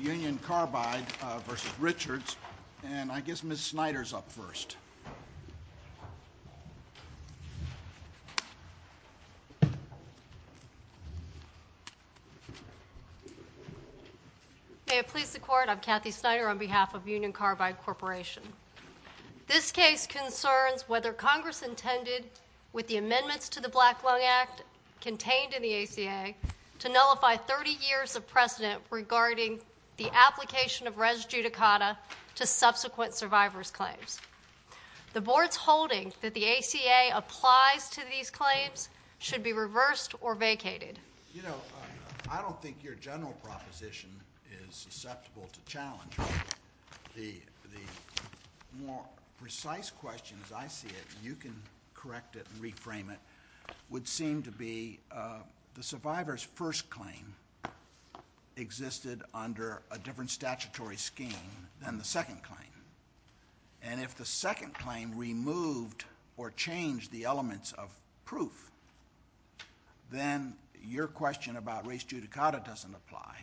Union Carbide v. Richards and I guess Ms. Snyder is up first. May it please the Court, I'm Kathy Snyder on behalf of Union Carbide Corporation. This case concerns whether Congress intended, with the amendments to the Black Lung Act contained in the ACA, to nullify 30 years of precedent regarding the application of res judicata to subsequent survivor's claims. The Board's holdings that the ACA applies to these claims should be reversed or vacated. You know, I don't think your general proposition is susceptible to challenge. The more precise question, as I see it, and you can correct it and reframe it, would seem to be the survivor's first claim existed under a different statutory scheme than the second claim. And if the second claim removed or changed the elements of proof, then your question about res judicata doesn't apply.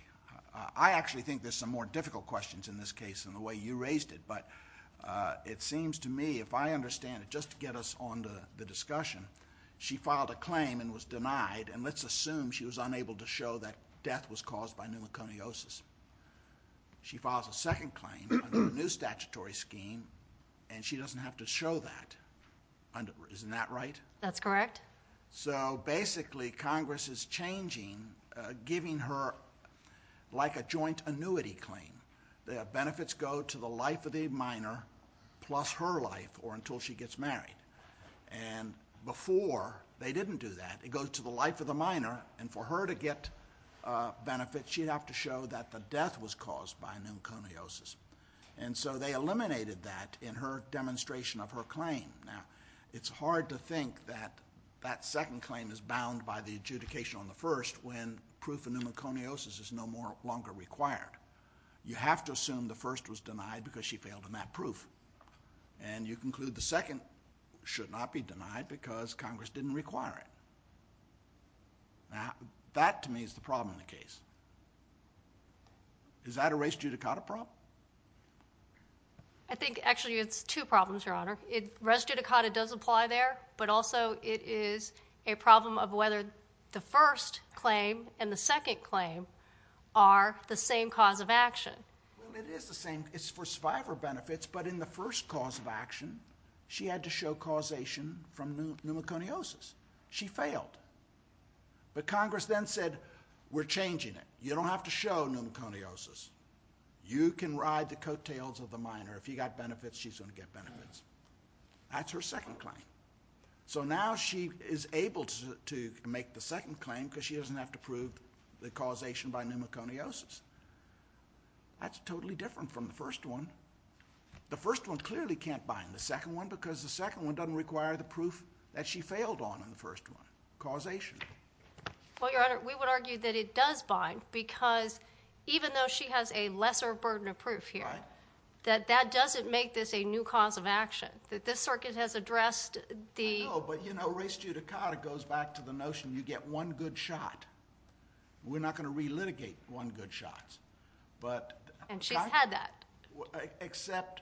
I actually think there's some more difficult questions in this case than the way you raised it, but it seems to me, if I understand it, just to get us on the discussion, she filed a claim and was denied, and let's assume she was unable to show that death was caused by pneumoconiosis. She filed a second claim under a new statutory scheme, and she doesn't have to show that. Isn't that right? That's correct. So basically, Congress is changing, giving her like a joint annuity claim. The benefits go to the life of the minor plus her life, or until she gets married. And before, they didn't do that. It goes to the life of the minor, and for her to get benefits, she'd have to show that the death was caused by pneumoconiosis. And so they eliminated that in her demonstration of her claim. Now, it's hard to think that that second claim is bound by the adjudication on the first when proof of pneumoconiosis is no longer required. You have to assume the first was denied because she failed in that proof, and you conclude the second should not be denied because Congress didn't require it. Now, that to me is the problem in the case. Is that a res judicata problem? I think actually it's two problems, Your Honor. Res judicata does apply there, but also it is a problem of whether the first claim and the second claim are the same cause of action. It is the same. It's for survivor benefits, but in the first cause of action, she had to show causation from pneumoconiosis. She failed. But Congress then said, we're changing it. You don't have to show pneumoconiosis. You can ride the coattails of a minor. If you've got benefits, she's going to get benefits. That's her second claim. So now she is able to make the second claim because she doesn't have to prove the causation by pneumoconiosis. That's totally different from the first one. The first one clearly can't bind the second one because the second one doesn't require the proof that she failed on in the first one, causation. Well, Your Honor, we would argue that it does bind because even though she has a lesser burden of proof here, that that doesn't make this a new cause of action. This circuit has addressed the... No, but you know, res judicata goes back to the notion you get one good shot. We're not going to relitigate one good shot. And she's had that. Except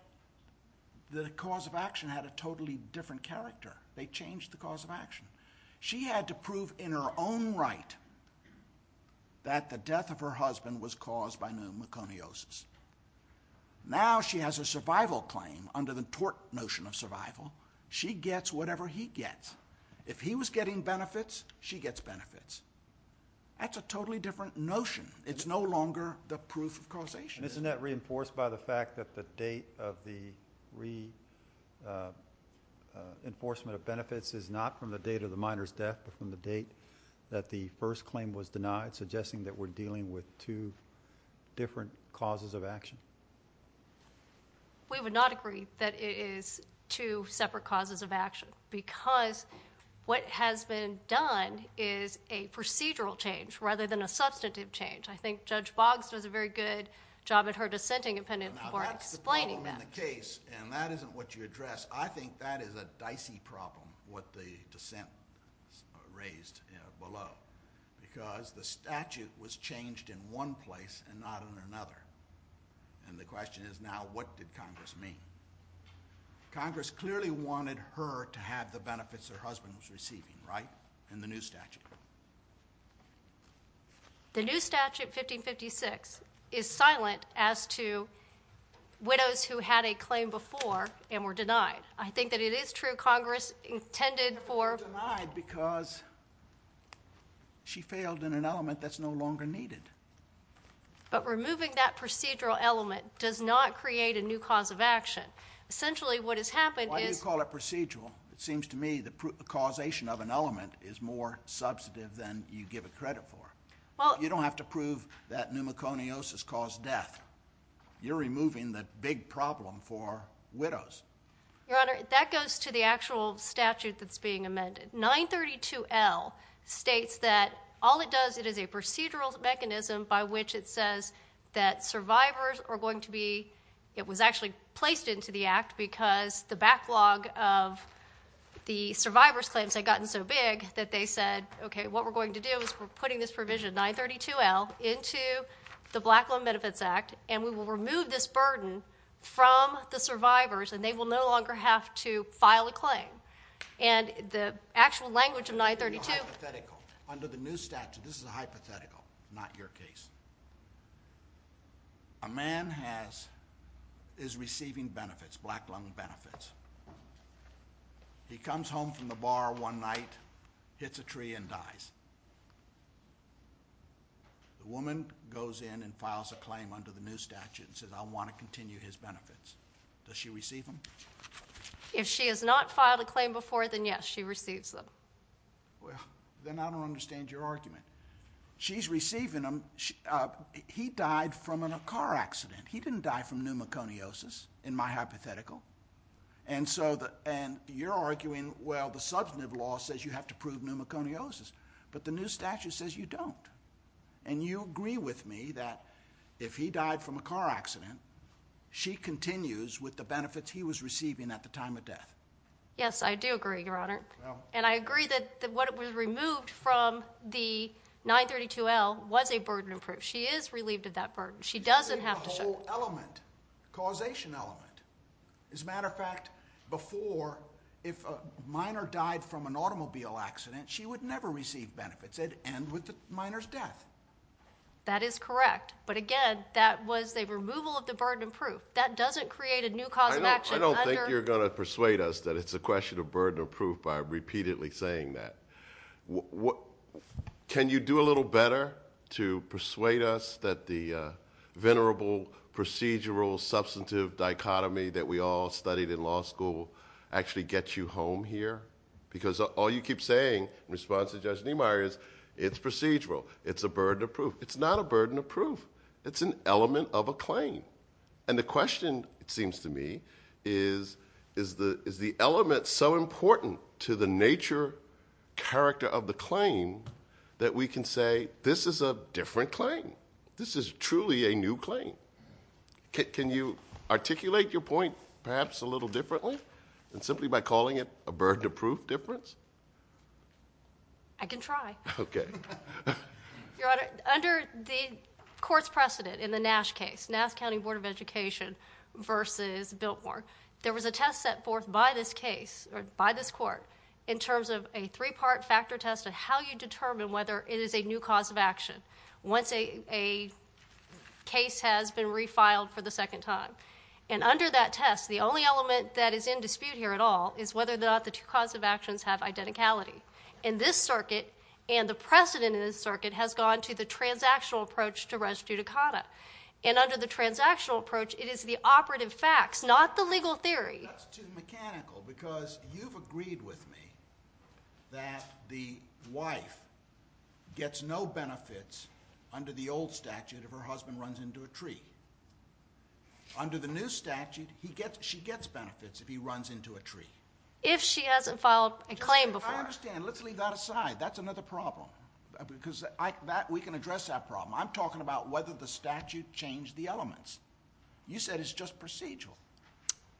the cause of action had a totally different character. They changed the cause of action. She had to prove in her own right that the death of her husband was caused by pneumoconiosis. Now she has a survival claim under the tort notion of survival. She gets whatever he gets. If he was getting benefits, she gets benefits. That's a totally different notion. It's no longer the proof of causation. Isn't that reinforced by the fact that the date of the reinforcement of benefits is not from the date of the minor's death but from the date that the first claim was denied, suggesting that we're dealing with two different causes of action? We would not agree that it is two separate causes of action because what has been done is a procedural change rather than a substantive change. I think Judge Boggs does a very good job at her dissenting opinion before explaining that. That's the problem in the case, and that isn't what you addressed. I think that is a dicey problem, what the dissent raised below, because the statute was changed in one place and not in another. And the question is now what did Congress mean? Congress clearly wanted her to have the benefits her husband was receiving, right, in the new statute. The new statute, 1556, is silent as to widows who had a claim before and were denied. I think that it is true Congress intended for her to be denied because she failed in an element that's no longer needed. But removing that procedural element does not create a new cause of action. Essentially what has happened is it seems to me the causation of an element is more substantive than you give it credit for. You don't have to prove that pneumoconiosis caused death. You're removing the big problem for widows. Your Honor, that goes to the actual statute that's being amended. 932L states that all it does, it is a procedural mechanism by which it says that survivors are going to be it was actually placed into the act because the backlog of the survivor's claims had gotten so big that they said, okay, what we're going to do is we're putting this provision, 932L, into the Black Loan Benefits Act and we will remove this burden from the survivors and they will no longer have to file a claim. And the actual language of 932L Under the new statute, this is a hypothetical, not your case. A man is receiving benefits, black loan benefits. He comes home from the bar one night, hits a tree and dies. The woman goes in and files a claim under the new statute and says I want to continue his benefits. Does she receive them? If she has not filed a claim before, then yes, she receives them. Then I don't understand your argument. She's receiving them. He died from a car accident. He didn't die from pneumoconiosis in my hypothetical. And you're arguing, well, the substantive law says you have to prove pneumoconiosis. But the new statute says you don't. And you agree with me that if he died from a car accident, she continues with the benefits he was receiving at the time of death. Yes, I do agree, Your Honor. And I agree that what was removed from the 932L was a burden of proof. She is relieved of that burden. She doesn't have to show it. There's a whole element, causation element. As a matter of fact, before, if a minor died from an automobile accident, she would never receive benefits. It would end with the minor's death. That is correct. But again, that was a removal of the burden of proof. That doesn't create a new cause of action. I don't think you're going to persuade us that it's a question of burden of proof by repeatedly saying that. Can you do a little better to persuade us that the venerable, procedural, substantive dichotomy that we all studied in law school actually gets you home here? Because all you keep saying, in response to Judge Niemeyer, is it's procedural. It's a burden of proof. It's not a burden of proof. It's an element of a claim. And the question, it seems to me, is, is the element so important to the nature, character of the claim, that we can say this is a different claim? This is truly a new claim. Can you articulate your point perhaps a little differently, simply by calling it a burden of proof difference? I can try. Okay. Your Honor, under the court's precedent in the Nash case, Nash County Board of Education versus Biltmore, there was a test set forth by this case, or by this court, in terms of a three-part factor test of how you determine whether it is a new cause of action once a case has been refiled for the second time. And under that test, the only element that is in dispute here at all is whether or not the two cause of actions have identicality. And this circuit, and the precedent in this circuit, has gone to the transactional approach to res judicata. And under the transactional approach, it is the operative facts, not the legal theory. Because you've agreed with me that the wife gets no benefits under the old statute if her husband runs into a tree. Under the new statute, she gets benefits if he runs into a tree. If she hasn't filed a claim before. I understand. Let's leave that aside. That's another problem. Because we can address that problem. I'm talking about whether the statute changed the elements. You said it's just procedural.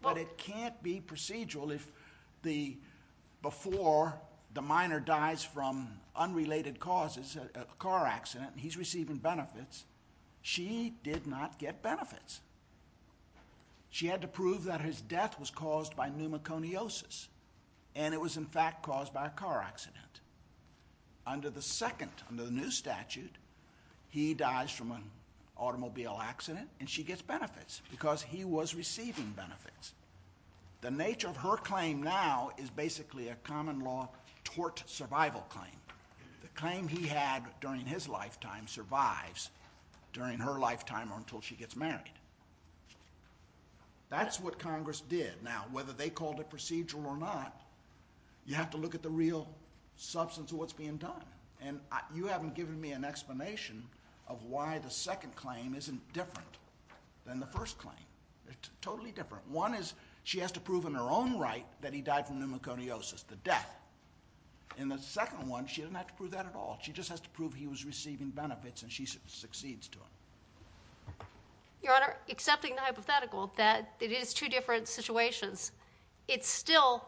But it can't be procedural if before the minor dies from unrelated causes, a car accident, and he's receiving benefits, she did not get benefits. She had to prove that his death was caused by pneumoconiosis. And it was, in fact, caused by a car accident. Under the second, the new statute, he dies from an automobile accident, and she gets benefits because he was receiving benefits. The nature of her claim now is basically a common law tort survival claim. The claim he had during his lifetime survives during her lifetime or until she gets married. That's what Congress did. Now, whether they called it procedural or not, you have to look at the real substance of what's being done. And you haven't given me an explanation of why the second claim isn't different than the first claim. It's totally different. One is she has to prove in her own right that he died from pneumoconiosis, the death. In the second one, she doesn't have to prove that at all. She just has to prove he was receiving benefits, and she succeeds to it. Your Honor, accepting the hypothetical that it is two different situations, it's still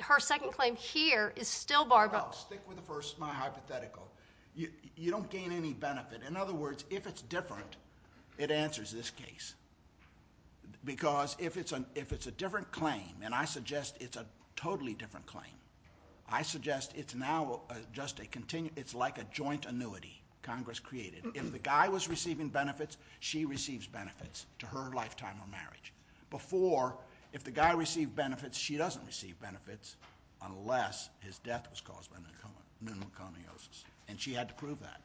her second claim here is still barbell. No, stick with the first of my hypothetical. You don't gain any benefit. In other words, if it's different, it answers this case. Because if it's a different claim, and I suggest it's a totally different claim, I suggest it's now just like a joint annuity Congress created. If the guy was receiving benefits, she receives benefits to her lifetime of marriage. Before, if the guy received benefits, she doesn't receive benefits unless his death was caused by pneumoconiosis, and she had to prove that.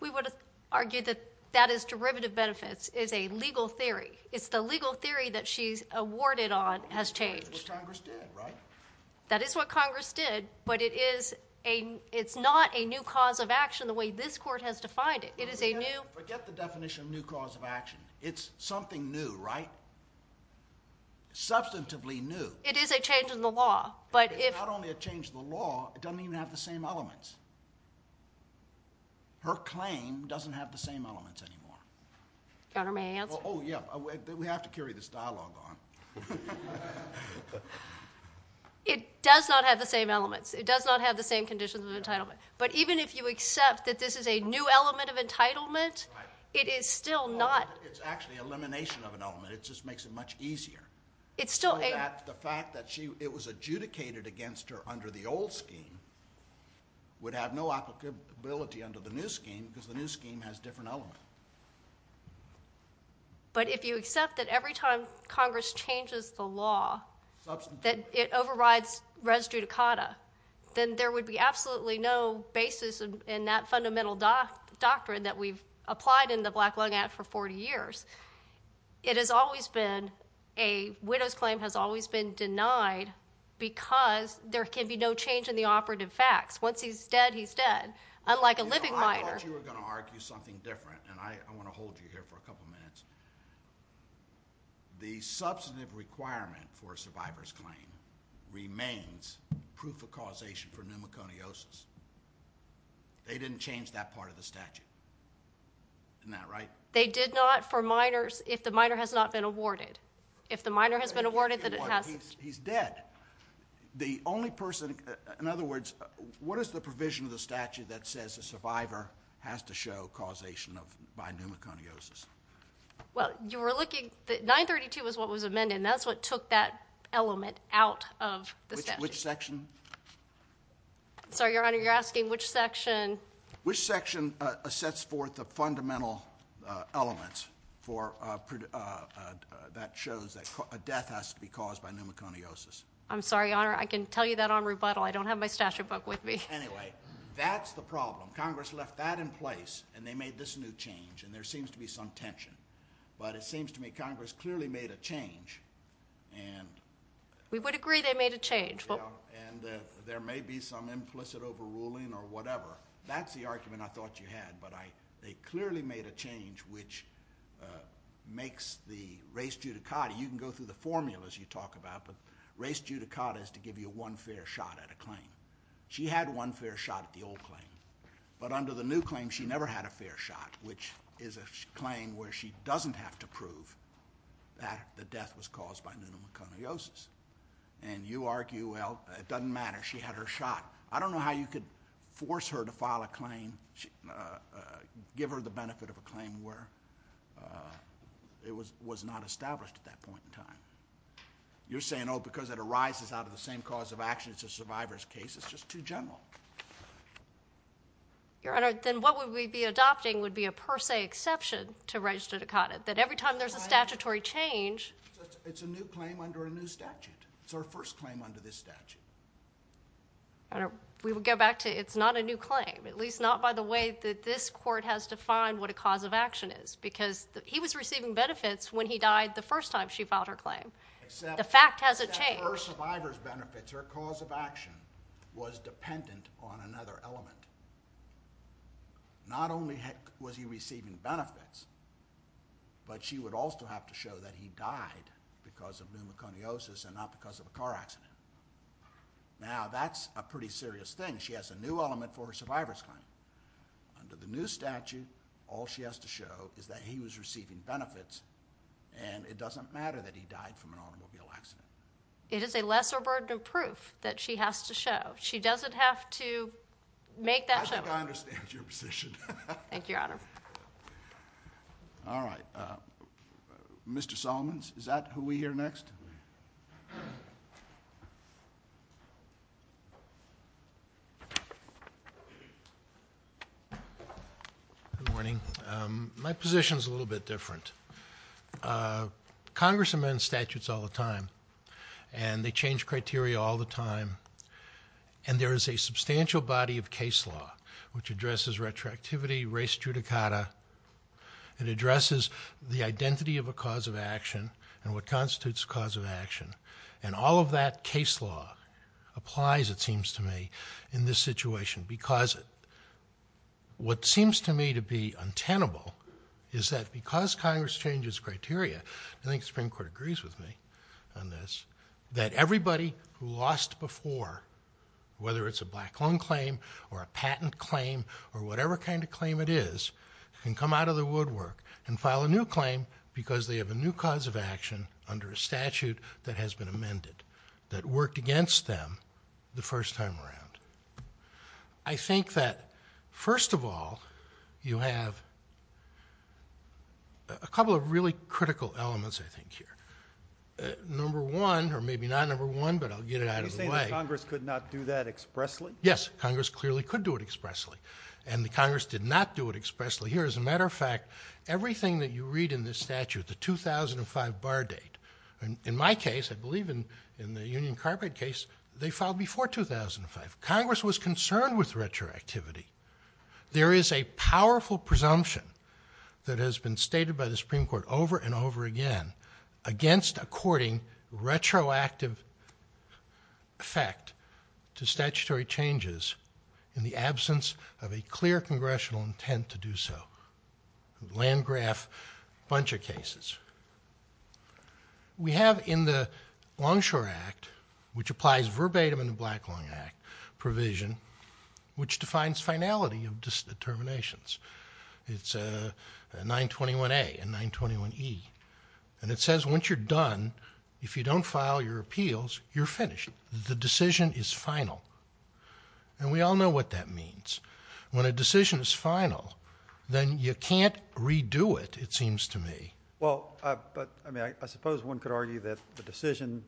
We would argue that that is derivative benefits. It's a legal theory. It's the legal theory that she's awarded on has changed. Which Congress did, right? That is what Congress did, but it's not a new cause of action the way this court has defined it. Forget the definition of new cause of action. It's something new, right? Substantively new. It is a change in the law. It's not only a change in the law. It doesn't even have the same elements. Her claim doesn't have the same elements anymore. Your Honor, may I answer? Oh, yeah. We have to carry this dialogue on. It does not have the same elements. It does not have the same conditions of entitlement. But even if you accept that this is a new element of entitlement, it is still not. It's actually elimination of an element. It just makes it much easier. The fact that it was adjudicated against her under the old scheme would have no applicability under the new scheme because the new scheme has different elements. But if you accept that every time Congress changes the law, that it overrides res judicata, then there would be absolutely no basis in that fundamental doctrine that we've applied in the Black Lung Act for 40 years. It has always been a widow's claim has always been denied because there can be no change in the operative facts. Once he's dead, he's dead, unlike a living widower. I thought you were going to argue something different, and I want to hold you here for a couple minutes. The substantive requirement for a survivor's claim remains proof of causation for pneumoconiosis. They didn't change that part of the statute. Isn't that right? They did not for minors if the minor has not been awarded. If the minor has been awarded, then it has... He's dead. The only person... In other words, what is the provision of the statute that says the survivor has to show causation by pneumoconiosis? Well, you were looking... 932 was what was amended, and that's what took that element out of the statute. Which section? I'm sorry, Your Honor, you're asking which section? Which section sets forth the fundamental elements that shows that a death has to be caused by pneumoconiosis? I'm sorry, Your Honor, I can tell you that on rebuttal. I don't have my statute book with me. Anyway, that's the problem. Congress left that in place, and they made this new change, and there seems to be some tension. But it seems to me Congress clearly made a change. We would agree they made a change. And there may be some implicit overruling or whatever. That's the argument I thought you had, but they clearly made a change which makes the res judicata... You can go through the formulas you talk about. The res judicata is to give you one fair shot at a claim. She had one fair shot at the old claim, but under the new claim she never had a fair shot, which is a claim where she doesn't have to prove that the death was caused by pneumoconiosis. And you argue, well, it doesn't matter, she had her shot. I don't know how you could force her to file a claim, give her the benefit of a claim where it was not established at that point in time. You're saying, oh, because it arises out of the same cause of action as the survivor's case, it's just too general. Your Honour, then what would we be adopting would be a per se exception to res judicata, that every time there's a statutory change... It's a new claim under a new statute. It's her first claim under this statute. We would go back to it's not a new claim, at least not by the way that this court has defined what a cause of action is, because he was receiving benefits when he died the first time she filed her claim. The fact hasn't changed. Her survivor's benefits, her cause of action, was dependent on another element. Not only was he receiving benefits, but she would also have to show that he died because of pneumoconiosis and not because of a car accident. Now, that's a pretty serious thing. She has a new element for her survivor's claim. Under the new statute, all she has to show is that he was receiving benefits, and it doesn't matter that he died from an automobile accident. It is a lesser burden of proof that she has to show. She doesn't have to make that show. I understand your position. Thank you, Your Honor. All right. Mr. Solomons, is that who we hear next? Good morning. My position is a little bit different. Congress amends statutes all the time, and they change criteria all the time, and there is a substantial body of case law which addresses retroactivity, race judicata. It addresses the identity of a cause of action and what constitutes a cause of action, and all of that case law applies, it seems to me, in this situation because what seems to me to be untenable is that because Congress changes criteria, I think the Supreme Court agrees with me on this, that everybody who lost before, whether it's a black loan claim or a patent claim or whatever kind of claim it is, can come out of the woodwork and file a new claim because they have a new cause of action under a statute that has been amended that worked against them the first time around. I think that, first of all, you have a couple of really critical elements, I think, here. Number one, or maybe not number one, but I'll get it out of the way. You think Congress could not do that expressly? Yes, Congress clearly could do it expressly, and Congress did not do it expressly. Here, as a matter of fact, everything that you read in this statute, the 2005 bar date, in my case, I believe in the Union Carpet case, they filed before 2005. Congress was concerned with retroactivity. There is a powerful presumption that has been stated by the Supreme Court over and over again against a courting retroactive effect to statutory changes in the absence of a clear congressional intent to do so. Land graph, bunch of cases. We have in the Longshore Act, which applies verbatim in the Black Long Act provision, which defines finality of determinations. It's 921A and 921E, and it says once you're done, if you don't file your appeals, you're finished. The decision is final, and we all know what that means. When a decision is final, then you can't redo it, it seems to me. Well, I suppose one could argue that the decision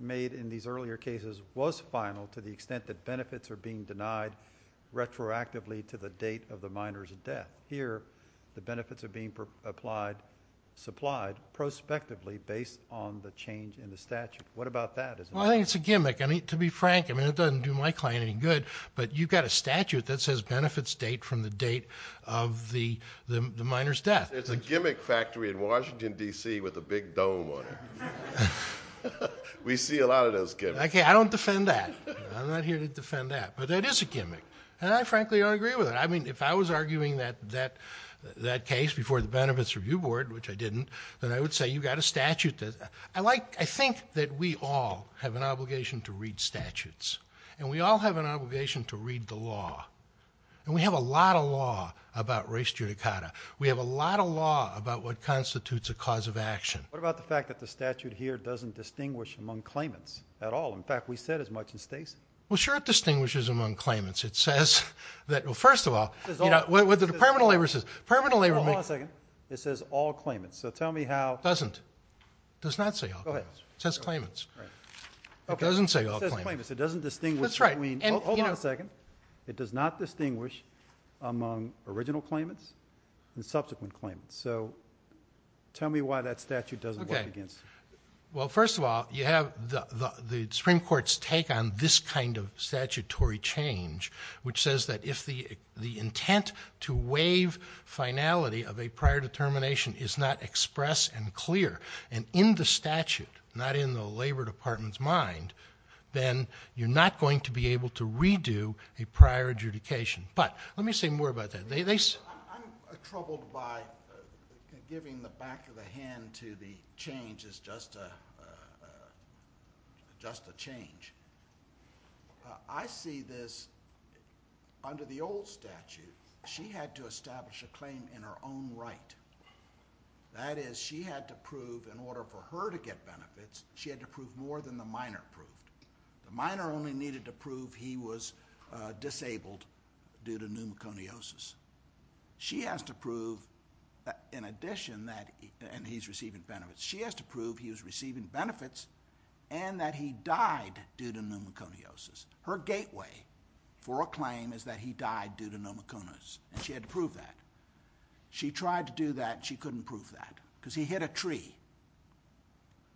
made in these earlier cases was final to the extent that benefits are being denied retroactively to the date of the minor's death. Here, the benefits are being supplied prospectively based on the change in the statute. What about that? Well, I think it's a gimmick. To be frank, it doesn't do my client any good, but you've got a statute that says benefits date from the date of the minor's death. It's a gimmick factory in Washington, D.C., with a big dome on it. We see a lot of those gimmicks. Okay, I don't defend that. I'm not here to defend that, but it is a gimmick, and I frankly agree with it. I mean, if I was arguing that case before the Benefits Review Board, which I didn't, then I would say you've got a statute that... I think that we all have an obligation to read statutes, and we all have an obligation to read the law, and we have a lot of law about race judicata. We have a lot of law about what constitutes a cause of action. What about the fact that the statute here doesn't distinguish among claimants at all? In fact, we've said as much in states. Well, sure it distinguishes among claimants. It says that... Well, first of all, what the Department of Labor says... Hold on a second. It says all claimants, so tell me how... It doesn't. It does not say all claimants. Go ahead. It says claimants. It doesn't say all claimants. It says claimants. It doesn't distinguish between... That's right, and... Hold on a second. It does not distinguish among original claimants and subsequent claimants. So tell me why that statute doesn't work against it. Okay. Well, first of all, you have the Supreme Court's take on this kind of statutory change, which says that if the intent to waive finality of a prior determination is not expressed and clear, and in the statute, not in the Labor Department's mind, then you're not going to be able to redo a prior adjudication. But let me say more about that. I'm troubled by giving the back of the hand to the change as just a change. I see this under the old statute. She had to establish a claim in her own right. That is, she had to prove, in order for her to get benefits, she had to prove more than the minor proved. The minor only needed to prove he was disabled due to pneumoconiosis. She has to prove, in addition that he's receiving benefits, she has to prove he was receiving benefits and that he died due to pneumoconiosis. Her gateway for a claim is that he died due to pneumoconiosis, and she had to prove that. She tried to do that, and she couldn't prove that because he hit a tree.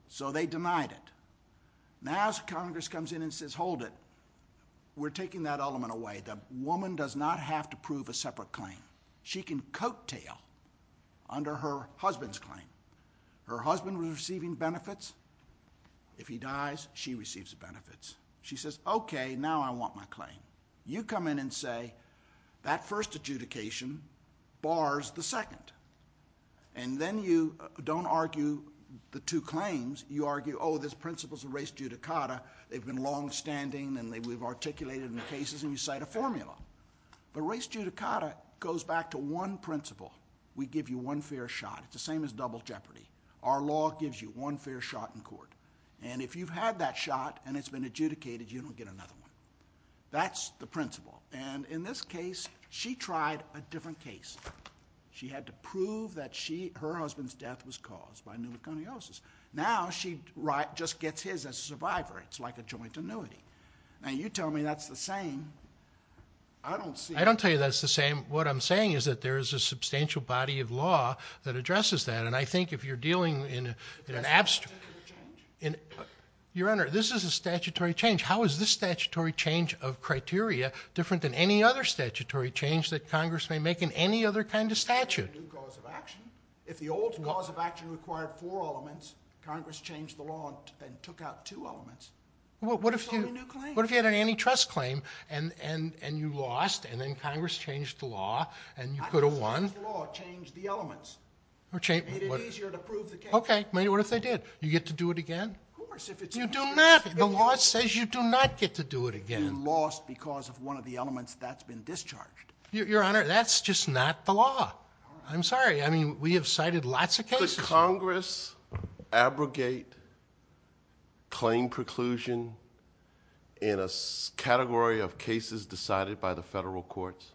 So they denied it. Now Congress comes in and says, hold it. We're taking that element away. The woman does not have to prove a separate claim. She can coattail under her husband's claim. Her husband was receiving benefits. If he dies, she receives the benefits. She says, okay, now I want my claim. You come in and say, that first adjudication bars the second. And then you don't argue the two claims. You argue, oh, this principle's a res judicata. They've been longstanding, and we've articulated in the cases, and we cite a formula. The res judicata goes back to one principle. We give you one fair shot, the same as double jeopardy. Our law gives you one fair shot in court, and if you've had that shot and it's been adjudicated, you don't get another one. That's the principle, and in this case, she tried a different case. She had to prove that her husband's death was caused by pneumoconiosis. Now she just gets his as a survivor. It's like a joint annuity. Now, you tell me that's the same. I don't see it. I don't tell you that's the same. What I'm saying is that there is a substantial body of law that addresses that, and I think if you're dealing in an abstract... Your Honor, this is a statutory change. How is this statutory change of criteria different than any other statutory change that Congress may make in any other kind of statute? If the old cause of action required four elements, Congress changed the law and took out two elements. What if you had an antitrust claim, and you lost, and then Congress changed the law, and you could have won? Congress changed the law, changed the elements. It is easier to prove the case. Okay, what if they did? Do you get to do it again? Of course. You do not. The law says you do not get to do it again. You lost because of one of the elements that's been discharged. Your Honor, that's just not the law. I'm sorry. I mean, we have cited lots of cases. Could Congress abrogate claim preclusion in a category of cases decided by the federal courts?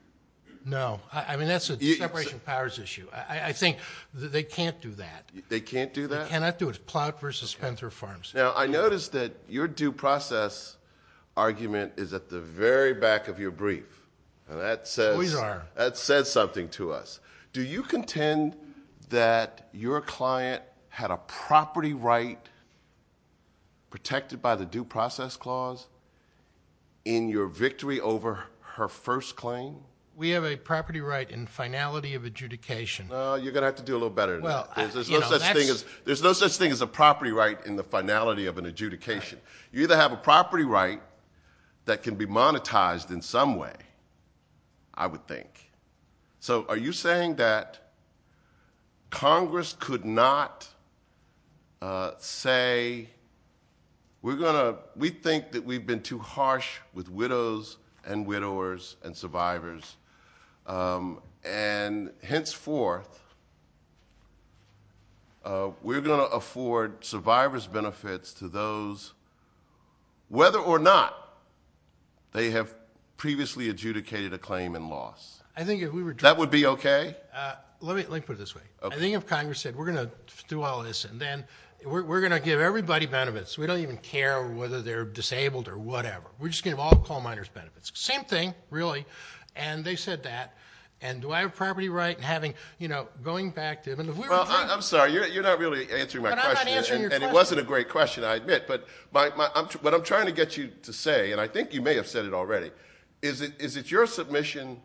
No. I mean, that's a separation of powers issue. I think they can't do that. They can't do that? They cannot do it. Ploutt v. Spencer Farms. Now, I notice that your due process argument is at the very back of your brief. It always are. That said something to us. Do you contend that your client had a property right protected by the due process clause in your victory over her first claim? We have a property right in finality of adjudication. Well, you're going to have to do a little better than that. There's no such thing as a property right in the finality of an adjudication. You either have a property right that can be monetized in some way, I would think. So are you saying that Congress could not say, we think that we've been too harsh with widows and widowers and survivors, and henceforth, we're going to afford survivor's benefits to those, whether or not they have previously adjudicated a claim in law? That would be OK? Let me put it this way. I think if Congress said, we're going to do all this, and then we're going to give everybody benefits. We don't even care whether they're disabled or whatever. We're just going to give all coal miners benefits. Same thing, really. And they said that. And do I have a property right in having, you know, going back to them? Well, I'm sorry. You're not really answering my question. And it wasn't a great question, I admit. But what I'm trying to get you to say, and I think you may have said it already, is it your submission,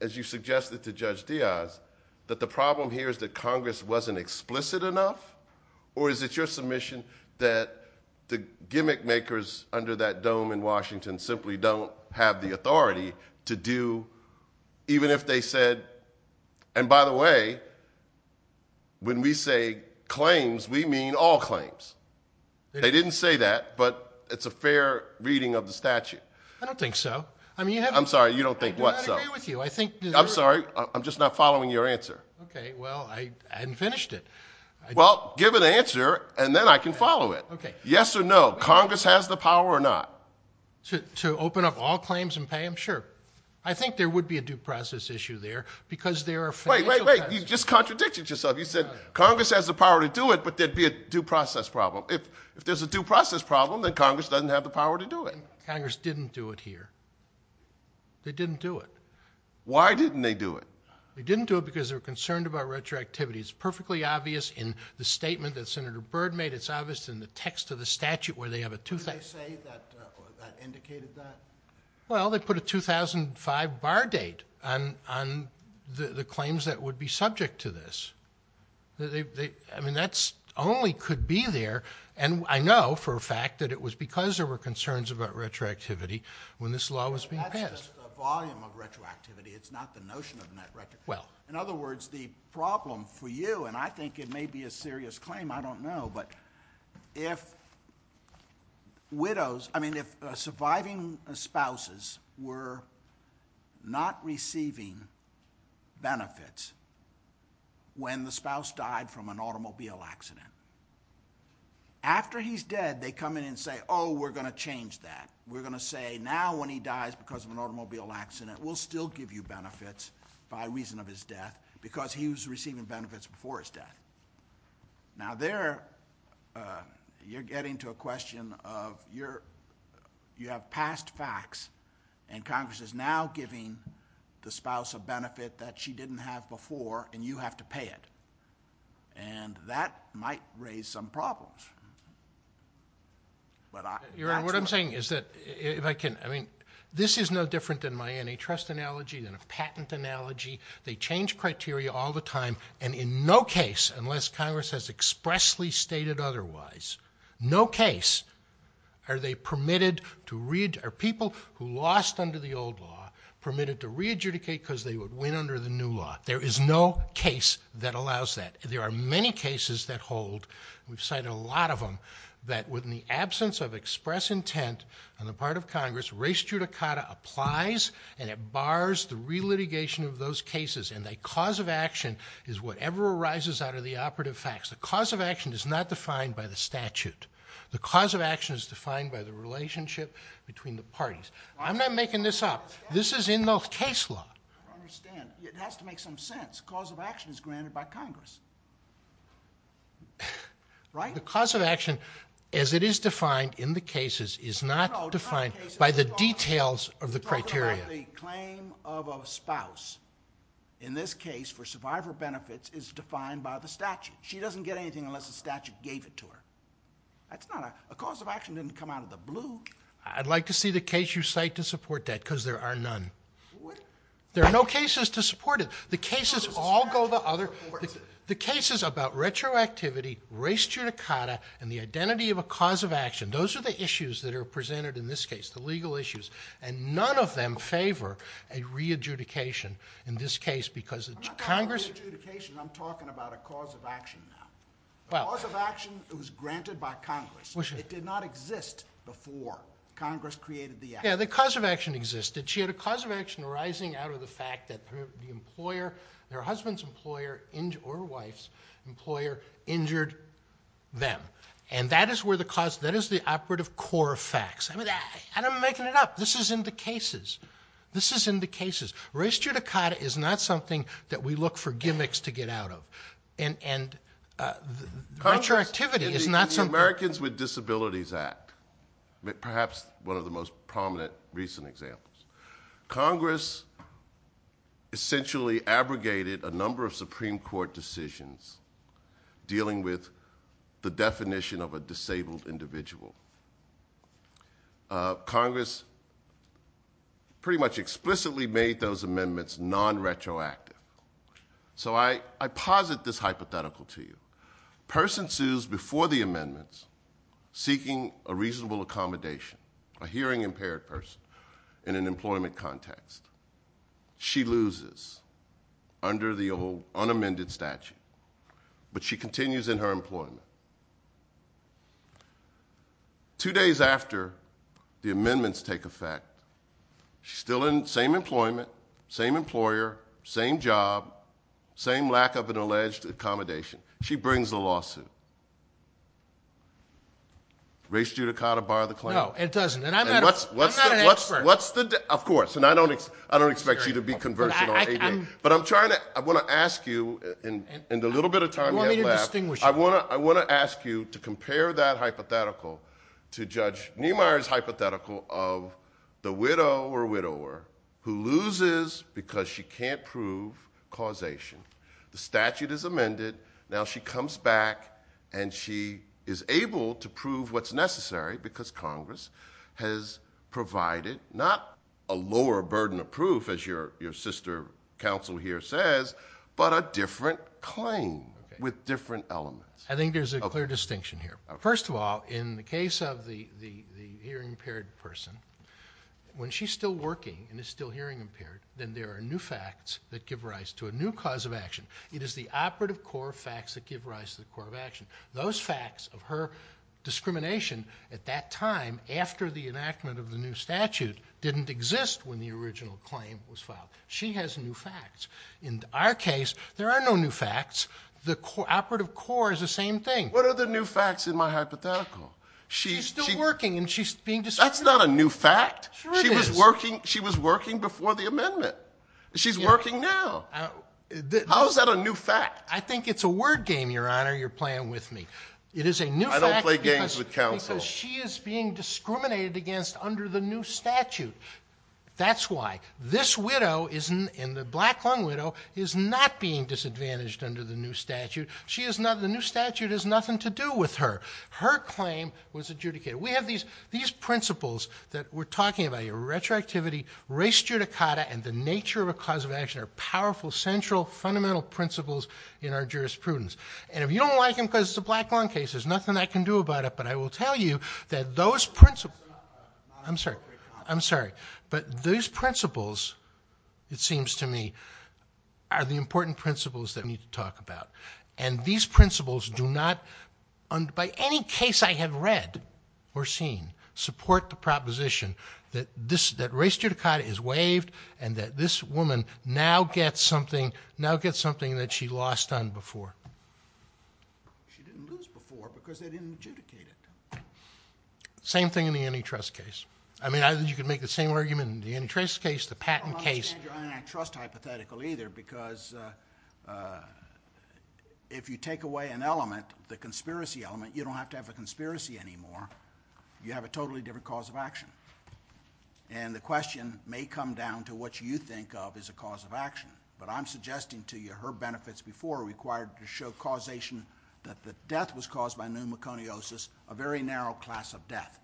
as you suggested to Judge Diaz, that the problem here is that Congress wasn't explicit enough? Or is it your submission that the gimmick makers under that dome in Washington simply don't have the authority to do, even if they said, and by the way, when we say claims, we mean all claims. They didn't say that. But it's a fair reading of the statute. I don't think so. I mean, you have to agree with you. I'm sorry. I'm just not following your answer. OK, well, I hadn't finished it. Well, give an answer, and then I can follow it. Yes or no, Congress has the power or not. To open up all claims and pay them? Sure. I think there would be a due process issue there. Wait, wait, wait. You just contradicted yourself. You said Congress has the power to do it, but there'd be a due process problem. If there's a due process problem, then Congress doesn't have the power to do it. Congress didn't do it here. They didn't do it. Why didn't they do it? They didn't do it because they were concerned about retroactivity. It's perfectly obvious in the statement that Senator Byrd made. It's obvious in the text of the statute where they have a 2005. Did they say that or that indicated that? Well, they put a 2005 bar date on the claims that would be subject to this. I mean, that only could be there, and I know for a fact that it was because there were concerns about retroactivity when this law was being passed. That's just the volume of retroactivity. It's not the notion of retroactivity. In other words, the problem for you, and I think it may be a serious claim, I don't know, but if surviving spouses were not receiving benefits when the spouse died from an automobile accident, after he's dead they come in and say, oh, we're going to change that. We're going to say now when he dies because of an automobile accident, we'll still give you benefits by reason of his death because he was receiving benefits before his death. Now there you're getting to a question of you have past facts and Congress is now giving the spouse a benefit that she didn't have before and you have to pay it, and that might raise some problems. Your Honor, what I'm saying is that if I can, I mean this is no different than my antitrust analogy, than a patent analogy. They change criteria all the time, and in no case unless Congress has expressly stated otherwise, no case are they permitted to read, are people who lost under the old law permitted to re-adjudicate because they would win under the new law. There is no case that allows that. There are many cases that hold, we've cited a lot of them, that with the absence of express intent on the part of Congress, res judicata applies and it bars the re-litigation of those cases and the cause of action is whatever arises out of the operative facts. The cause of action is not defined by the statute. The cause of action is defined by the relationship between the parties. I'm not making this up. This is in the case law. I understand. It has to make some sense. Cause of action is granted by Congress. Right? The cause of action as it is defined in the cases is not defined by the details of the criteria. The claim of a spouse in this case for survivor benefits is defined by the statute. She doesn't get anything unless the statute gave it to her. That's not a, a cause of action didn't come out of the blue. I'd like to see the case you cite to support that because there are none. What? There are no cases to support it. The cases all go to other, the cases about retroactivity, res judicata, and the identity of a cause of action, those are the issues that are presented in this case, the legal issues, and none of them favor a re-adjudication in this case because of Congress. I'm not talking about re-adjudication. I'm talking about a cause of action. A cause of action that was granted by Congress. It did not exist before Congress created the act. Yeah, the cause of action existed. She had a cause of action arising out of the fact that the employer, her husband's employer or wife's employer injured them, and that is where the cause, that is the operative core of facts. And I'm making it up. This is in the cases. This is in the cases. Res judicata is not something that we look for gimmicks to get out of, and retroactivity is not something. In the Americans with Disabilities Act, perhaps one of the most prominent recent examples, Congress essentially abrogated a number of Supreme Court decisions dealing with the definition of a disabled individual. Congress pretty much explicitly made those amendments non-retroactive. So I posit this hypothetical to you. A person sues before the amendments seeking a reasonable accommodation, a hearing-impaired person in an employment context. She loses under the unamended statute, but she continues in her employment. Two days after the amendments take effect, she's still in the same employment, same employer, same job, same lack of an alleged accommodation. She brings a lawsuit. Res judicata bar the claim. No, it doesn't. And I've got an expert. Of course, and I don't expect you to be conversant on anything. But I want to ask you in the little bit of time left, I want to ask you to compare that hypothetical to Judge Niemeyer's hypothetical of the widow or widower who loses because she can't prove causation. The statute is amended. Now she comes back, and she is able to prove what's necessary because Congress has provided not a lower burden of proof, as your sister counsel here says, but a different claim with different elements. I think there's a clear distinction here. First of all, in the case of the hearing-impaired person, when she's still working and is still hearing-impaired, then there are new facts that give rise to a new cause of action. It is the operative core facts that give rise to the core of action. Those facts of her discrimination at that time, after the enactment of the new statute, didn't exist when the original claim was filed. She has new facts. In our case, there are no new facts. The operative core is the same thing. What are the new facts in my hypothetical? She's still working, and she's being discriminated against. That's not a new fact. She was working before the amendment. She's working now. How is that a new fact? I think it's a word game, Your Honor. You're playing with me. I don't play games with counsel. It is a new fact because she is being discriminated against under the new statute. That's why. This widow, the black-lunged widow, is not being disadvantaged under the new statute. The new statute has nothing to do with her. Her claim was adjudicated. We have these principles that we're talking about here, retroactivity, res judicata, and the nature of a cause of action are powerful, central, fundamental principles in our jurisprudence. And if you don't like them because it's a black-lunged case, there's nothing I can do about it, but I will tell you that those principles, I'm sorry, I'm sorry, but those principles, it seems to me, are the important principles that we need to talk about. And these principles do not, by any case I have read or seen, support the proposition that res judicata is waived and that this woman now gets something that she lost on before. She didn't lose before because they didn't adjudicate it. Same thing in the antitrust case. I mean, you can make the same argument in the antitrust case, the patent case. I don't trust hypothetical either because if you take away an element, the conspiracy element, you don't have to have a conspiracy anymore. You have a totally different cause of action. And the question may come down to what you think of as a cause of action, but I'm suggesting to you her benefits before required to show causation that the death was caused by pneumoconiosis, a very narrow class of death.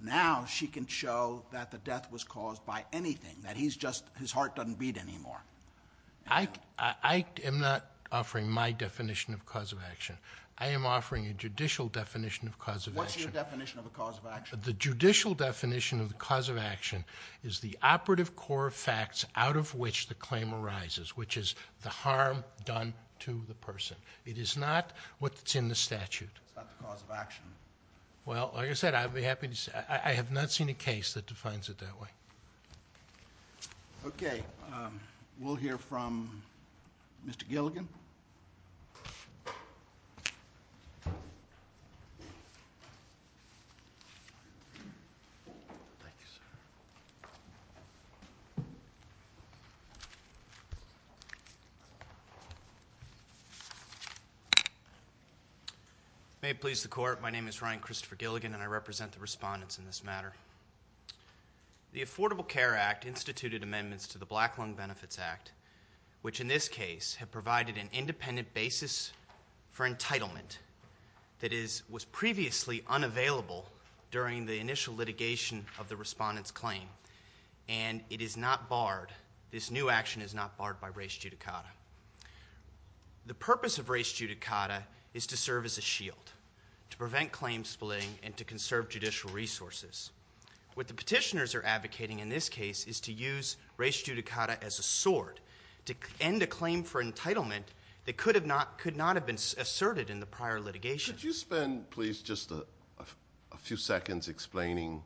Now she can show that the death was caused by anything, that his heart doesn't beat anymore. I am not offering my definition of cause of action. I am offering a judicial definition of cause of action. What's your definition of a cause of action? The judicial definition of the cause of action is the operative core facts out of which the claim arises, which is the harm done to the person. It is not what's in the statute. That's the cause of action. Well, like I said, I'd be happy to say. I have not seen a case that defines it that way. Okay. We'll hear from Mr. Gilligan. Thanks. May it please the Court, my name is Ryan Christopher Gilligan and I represent the respondents in this matter. The Affordable Care Act instituted amendments to the Black Lung Benefits Act, which in this case have provided an independent basis for entitlement that was previously unavailable during the initial litigation of the respondent's claim. And it is not barred. This new action is not barred by res judicata. The purpose of res judicata is to serve as a shield, to prevent claim splitting and to conserve judicial resources. What the petitioners are advocating in this case is to use res judicata as a sword to end a claim for entitlement that could not have been asserted in the prior litigation. Could you spend please just a few seconds explaining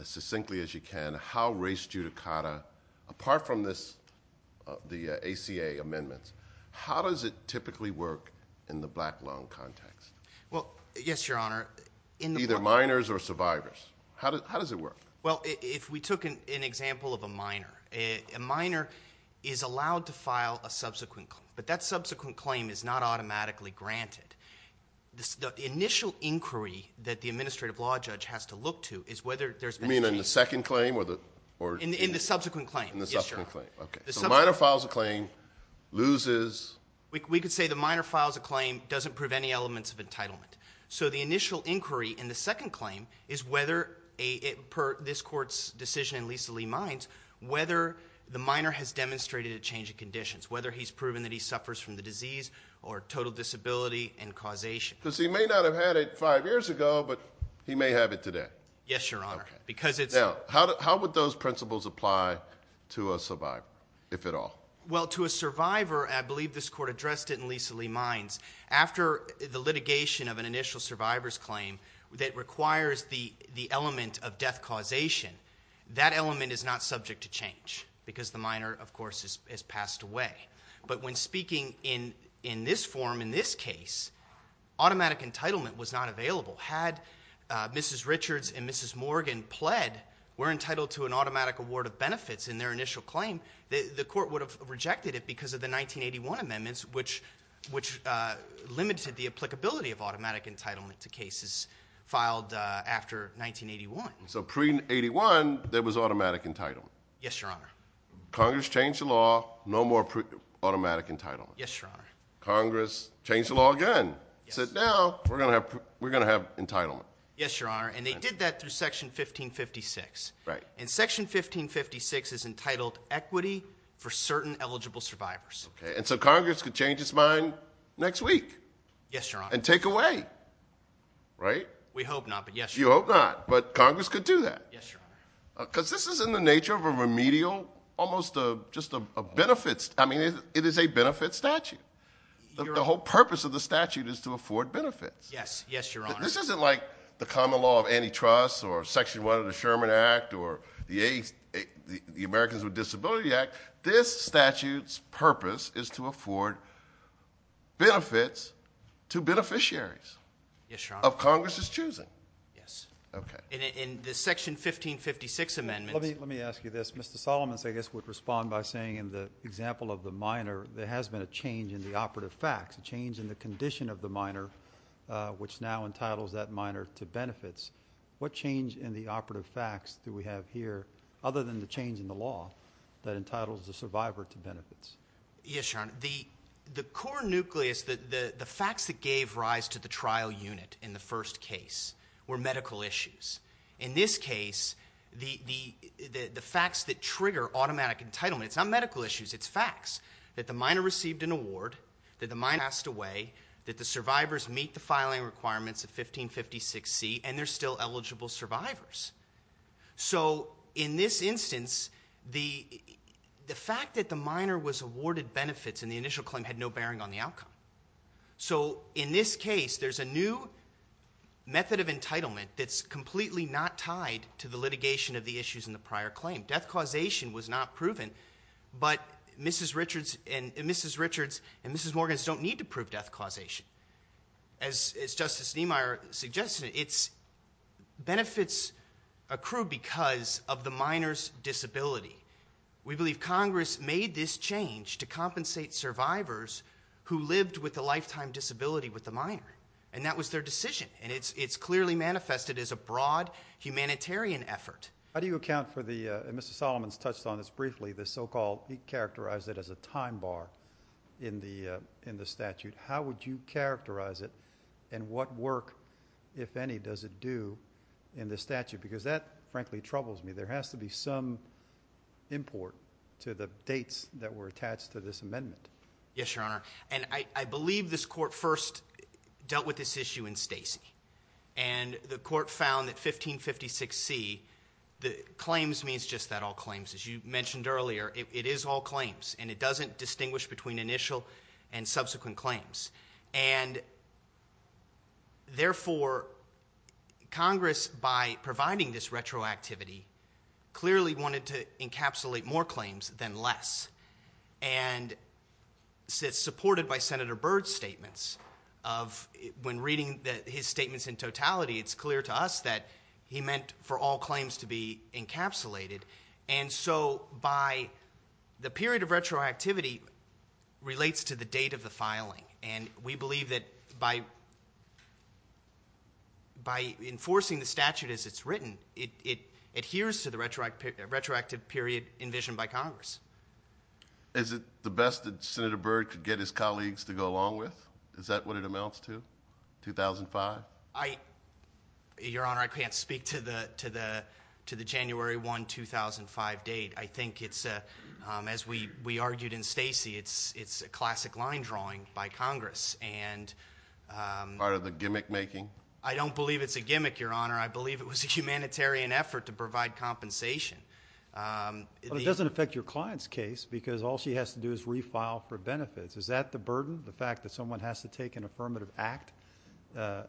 as succinctly as you can how res judicata, apart from the ACA amendments, how does it typically work in the black lung context? Well, yes, Your Honor. Either minors or survivors. How does it work? Well, if we took an example of a minor. A minor is allowed to file a subsequent claim, but that subsequent claim is not automatically granted. The initial inquiry that the administrative law judge has to look to is whether there's any – You mean in the second claim or – In the subsequent claim. In the subsequent claim. Okay. So a minor files a claim, loses – We could say the minor files a claim, doesn't prove any elements of entitlement. So the initial inquiry in the second claim is whether, per this court's decision in Lisa Lee Mines, whether the minor has demonstrated a change in conditions, whether he's proven that he suffers from the disease or total disability and causation. Because he may not have had it five years ago, but he may have it today. Yes, Your Honor, because it's – Now, how would those principles apply to a survivor, if at all? Well, to a survivor, and I believe this court addressed it in Lisa Lee Mines, after the litigation of an initial survivor's claim that requires the element of death causation, that element is not subject to change because the minor, of course, has passed away. But when speaking in this form, in this case, automatic entitlement was not available. Had Mrs. Richards and Mrs. Morgan pled, were entitled to an automatic award of benefits in their initial claim, the court would have rejected it because of the 1981 amendments, which limited the applicability of automatic entitlement to cases filed after 1981. So pre-'81, there was automatic entitlement. Yes, Your Honor. Congress changed the law, no more automatic entitlement. Yes, Your Honor. Congress changed the law again. It says now we're going to have entitlement. Yes, Your Honor, and they did that through Section 1556. Right. And Section 1556 is entitled equity for certain eligible survivors. And so Congress could change its mind next week. Yes, Your Honor. And take away, right? We hope not, but yes, Your Honor. You hope not, but Congress could do that. Yes, Your Honor. Because this is in the nature of a remedial, almost just a benefit. I mean, it is a benefit statute. The whole purpose of the statute is to afford benefits. Yes, Your Honor. This isn't like the common law of antitrust or Section 1 of the Sherman Act or the Americans with Disability Act. This statute's purpose is to afford benefits to beneficiaries. Yes, Your Honor. Of Congress's choosing. Yes. Okay. In the Section 1556 amendment. Let me ask you this. Mr. Solomon, I guess, would respond by saying in the example of the minor, there has been a change in the operative facts, what change in the operative facts do we have here other than the change in the law that entitles the survivor to benefits? Yes, Your Honor. The core nucleus, the facts that gave rise to the trial unit in the first case were medical issues. In this case, the facts that trigger automatic entitlement, it's not medical issues. It's facts. That the minor received an award, that the minor passed away, that the survivors meet the filing requirements of 1556C, and they're still eligible survivors. So in this instance, the fact that the minor was awarded benefits in the initial claim had no bearing on the outcome. So in this case, there's a new method of entitlement that's completely not tied to the litigation of the issues in the prior claim. Death causation was not proven, but Mrs. Richards and Mrs. Morgan don't need to prove death causation. As Justice Niemeyer suggested, benefits accrue because of the minor's disability. We believe Congress made this change to compensate survivors who lived with a lifetime disability with the minor, and that was their decision. And it's clearly manifested as a broad humanitarian effort. How do you account for the – and Mr. Solomon touched on this briefly – the so-called – he characterized it as a time bar in the statute. How would you characterize it, and what work, if any, does it do in the statute? Because that, frankly, troubles me. There has to be some import to the dates that were attached to this amendment. Yes, Your Honor, and I believe this court first dealt with this issue in Stacey. And the court found that 1556C – claims means just that, all claims. As you mentioned earlier, it is all claims, and it doesn't distinguish between initial and subsequent claims. And therefore, Congress, by providing this retroactivity, clearly wanted to encapsulate more claims than less. And it's supported by Senator Byrd's statements of – when reading his statements in totality, it's clear to us that he meant for all claims to be encapsulated. And so by – the period of retroactivity relates to the date of the filing. And we believe that by enforcing the statute as it's written, it adheres to the retroactive period envisioned by Congress. Is it the best that Senator Byrd could get his colleagues to go along with? Is that what it amounts to, 2005? Your Honor, I can't speak to the January 1, 2005 date. I think it's – as we argued in Stacey, it's a classic line drawing by Congress. Part of the gimmick making? I don't believe it's a gimmick, Your Honor. I believe it was a humanitarian effort to provide compensation. But it doesn't affect your client's case because all she has to do is refile for benefits. Is that the burden, the fact that someone has to take an affirmative act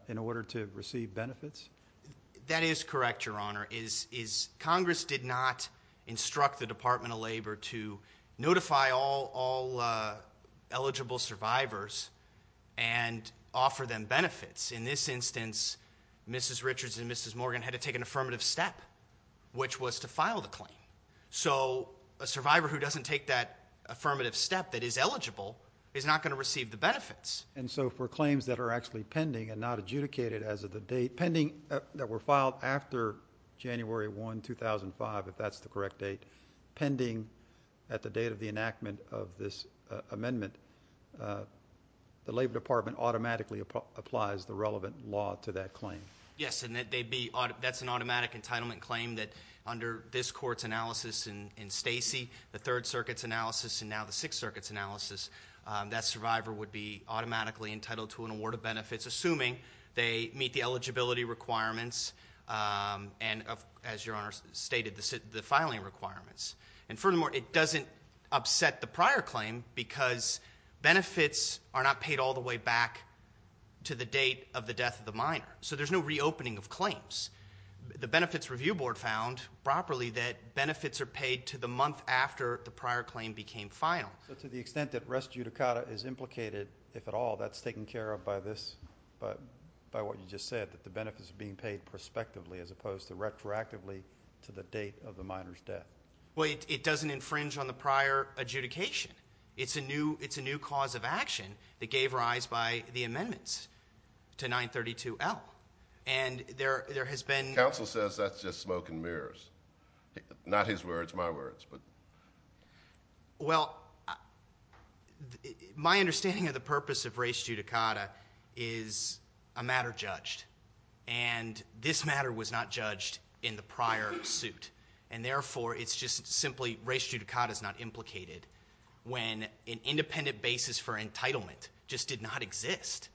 in order to receive benefits? That is correct, Your Honor. Congress did not instruct the Department of Labor to notify all eligible survivors and offer them benefits. In this instance, Mrs. Richards and Mrs. Morgan had to take an affirmative step, which was to file the claim. So a survivor who doesn't take that affirmative step that is eligible is not going to receive the benefits. And so for claims that are actually pending and not adjudicated as of the date, pending – that were filed after January 1, 2005, if that's the correct date, pending at the date of the enactment of this amendment, the Labor Department automatically applies the relevant law to that claim. Yes, and that's an automatic entitlement claim that under this Court's analysis in Stacy, the Third Circuit's analysis, and now the Sixth Circuit's analysis, that survivor would be automatically entitled to an award of benefits, assuming they meet the eligibility requirements and, as Your Honor stated, the filing requirements. And furthermore, it doesn't upset the prior claim because benefits are not paid all the way back to the date of the death of the minor. So there's no reopening of claims. The Benefits Review Board found properly that benefits are paid to the month after the prior claim became final. So to the extent that res judicata is implicated, if at all, that's taken care of by this – by what you just said, that the benefits are being paid prospectively as opposed to retroactively to the date of the minor's death? Well, it doesn't infringe on the prior adjudication. It's a new cause of action that gave rise by the amendments to 932L. And there has been – Counsel says that's just smoke and mirrors, not his words, my words. Well, my understanding of the purpose of res judicata is a matter judged, and this matter was not judged in the prior suit. And therefore, it's just simply res judicata is not implicated when an independent basis for entitlement just did not exist.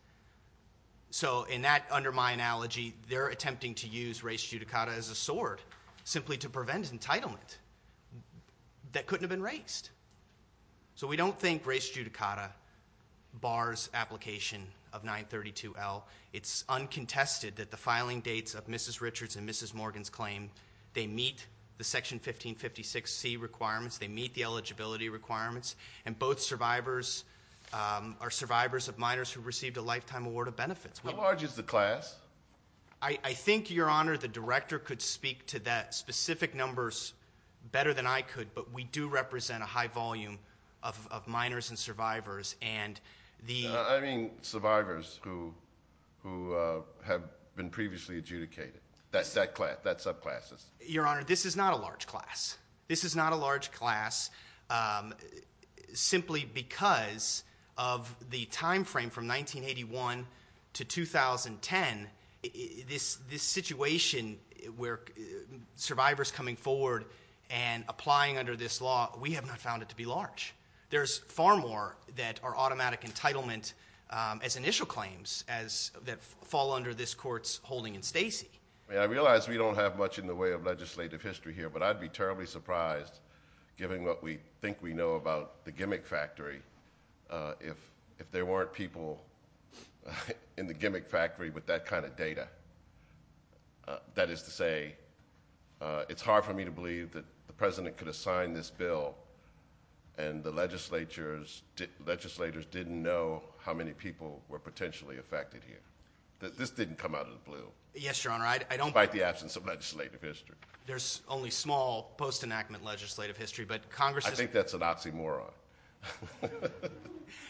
So in that, under my analogy, they're attempting to use res judicata as a sword simply to prevent entitlement that couldn't have been raised. So we don't think res judicata bars application of 932L. It's uncontested that the filing dates of Mrs. Richards and Mrs. Morgan's claim, they meet the Section 1556C requirements, they meet the eligibility requirements, and both survivors are survivors of minors who received a lifetime award of benefits. How large is the class? I think, Your Honor, the Director could speak to that specific numbers better than I could, but we do represent a high volume of minors and survivors, and the – I mean survivors who have been previously adjudicated, that class, that subclass. Your Honor, this is not a large class. This is not a large class simply because of the time frame from 1981 to 2010. This situation where survivors coming forward and applying under this law, we have not found it to be large. There's far more that are automatic entitlement as initial claims that fall under this court's holding in Stacy. I realize we don't have much in the way of legislative history here, but I'd be terribly surprised, given what we think we know about the gimmick factory, if there weren't people in the gimmick factory with that kind of data. That is to say, it's hard for me to believe that the President could assign this bill and the legislators didn't know how many people were potentially affected here. This didn't come out of the blue. Yes, Your Honor, I don't – Despite the absence of legislative history. There's only small post-enactment legislative history, but Congress – I think that's a Nazi moron,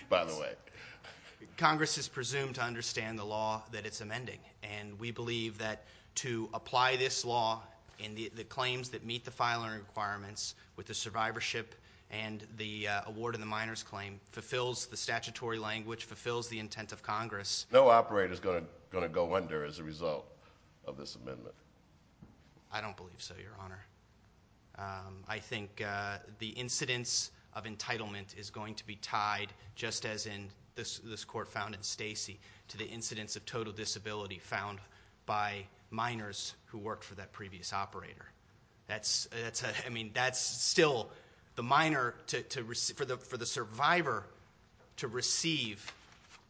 by the way. Congress is presumed to understand the law that it's amending, and we believe that to apply this law and the claims that meet the filing requirements with the survivorship and the award of the minor's claim fulfills the statutory language, fulfills the intent of Congress. No operator is going to go under as a result of this amendment. I don't believe so, Your Honor. I think the incidence of entitlement is going to be tied, just as in this court found in Stacy, to the incidence of total disability found by minors who worked for that previous operator. That's still the minor – for the survivor to receive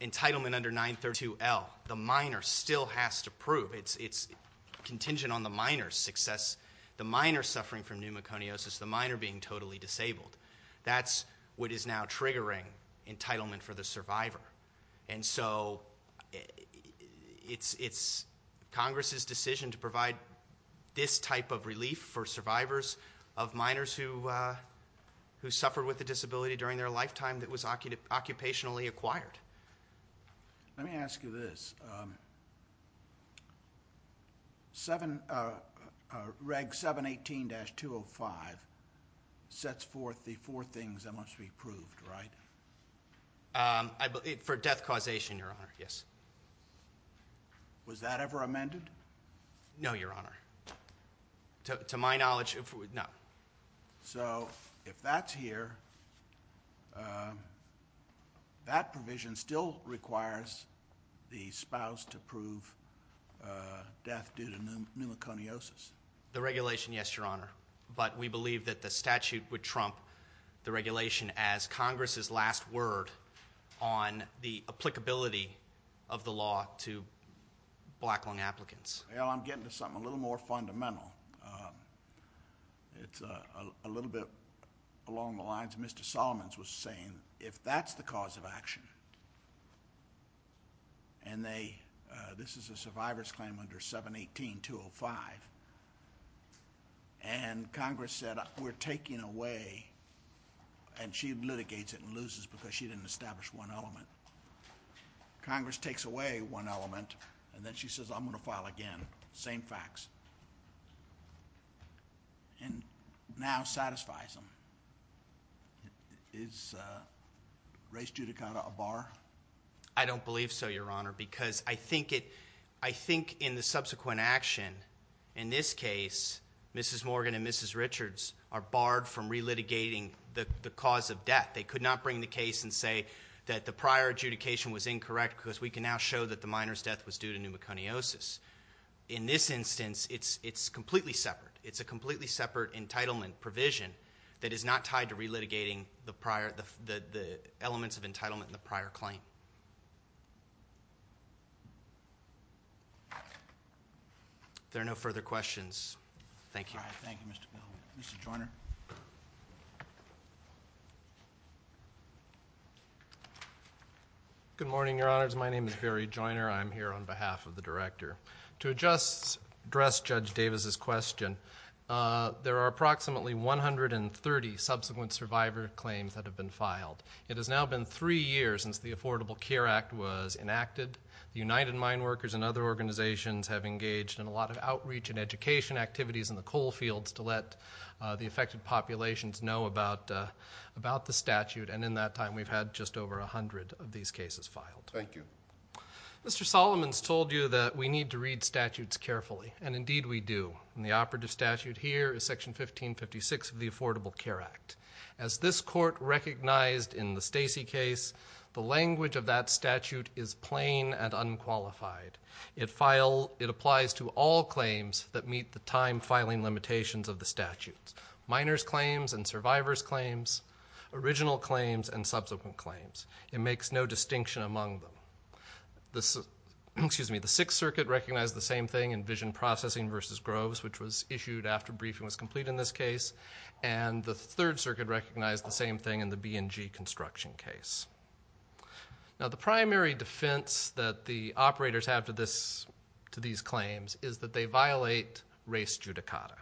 entitlement under 932L, the minor still has to prove. It's contingent on the minor's success. The minor suffering from pneumoconiosis, the minor being totally disabled, that's what is now triggering entitlement for the survivor. And so it's Congress's decision to provide this type of relief for survivors of minors who suffered with a disability during their lifetime that was occupationally acquired. Let me ask you this. Reg 718-205 sets forth the four things that must be approved, right? For death causation, Your Honor, yes. Was that ever amended? No, Your Honor. To my knowledge, no. So if that's here, that provision still requires the spouse to prove death due to pneumoconiosis. The regulation, yes, Your Honor, but we believe that the statute would trump the regulation as Congress's last word on the applicability of the law to black lung applicants. Well, I'm getting to something a little more fundamental. It's a little bit along the lines of Mr. Solomons was saying, if that's the cause of action, and this is a survivor's claim under 718-205, and Congress said, we're taking away, and she litigates it and loses because she didn't establish one element. Congress takes away one element, and then she says, I'm going to file again, same facts. And now satisfies them. Is race judicata a bar? I don't believe so, Your Honor, because I think in the subsequent action, in this case, Mrs. Morgan and Mrs. Richards are barred from relitigating the cause of death. They could not bring the case and say that the prior adjudication was incorrect because we can now show that the minor's death was due to pneumoconiosis. In this instance, it's completely separate. It's a completely separate entitlement provision that is not tied to relitigating the elements of entitlement in the prior claim. If there are no further questions, thank you. Thank you, Mr. Miller. Mr. Joyner? Good morning, Your Honors. My name is Barry Joyner. I'm here on behalf of the Director. To address Judge Davis's question, there are approximately 130 subsequent survivor claims that have been filed. It has now been three years since the Affordable Care Act was enacted. United Mine Workers and other organizations have engaged in a lot of outreach and education activities in the coal fields to let the affected populations know about the statute, and in that time we've had just over 100 of these cases filed. Thank you. Mr. Solomon's told you that we need to read statutes carefully, and indeed we do. The operative statute here is Section 1556 of the Affordable Care Act. As this court recognized in the Stacey case, the language of that statute is plain and unqualified. It applies to all claims that meet the time-filing limitations of the statute. Minors' claims and survivors' claims, original claims and subsequent claims. It makes no distinction among them. The Sixth Circuit recognized the same thing in Vision Processing v. Groves, which was issued after briefing was complete in this case, and the Third Circuit recognized the same thing in the B&G Construction case. Now the primary defense that the operators have to these claims is that they violate race judicata.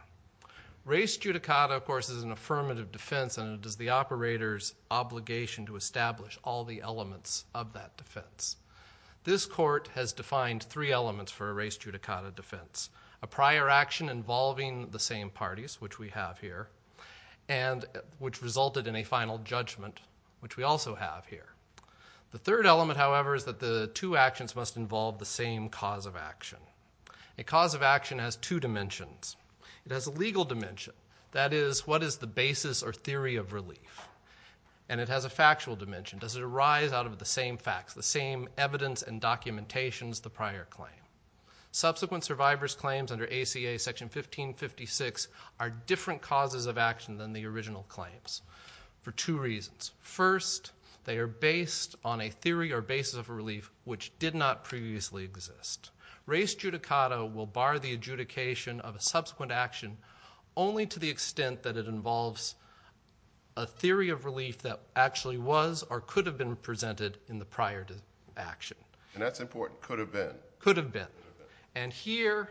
Race judicata, of course, is an affirmative defense, and it is the operator's obligation to establish all the elements of that defense. This court has defined three elements for a race judicata defense, a prior action involving the same parties, which we have here, and which resulted in a final judgment, which we also have here. The third element, however, is that the two actions must involve the same cause of action. A cause of action has two dimensions. It has a legal dimension, that is, what is the basis or theory of relief, and it has a factual dimension. Does it arise out of the same facts, the same evidence and documentation as the prior claim? Subsequent survivors' claims under ACA Section 1556 are different causes of action than the original claims for two reasons. First, they are based on a theory or basis of relief which did not previously exist. Race judicata will bar the adjudication of a subsequent action only to the extent that it involves a theory of relief that actually was or could have been presented in the prior action. And that's important, could have been. Could have been. And here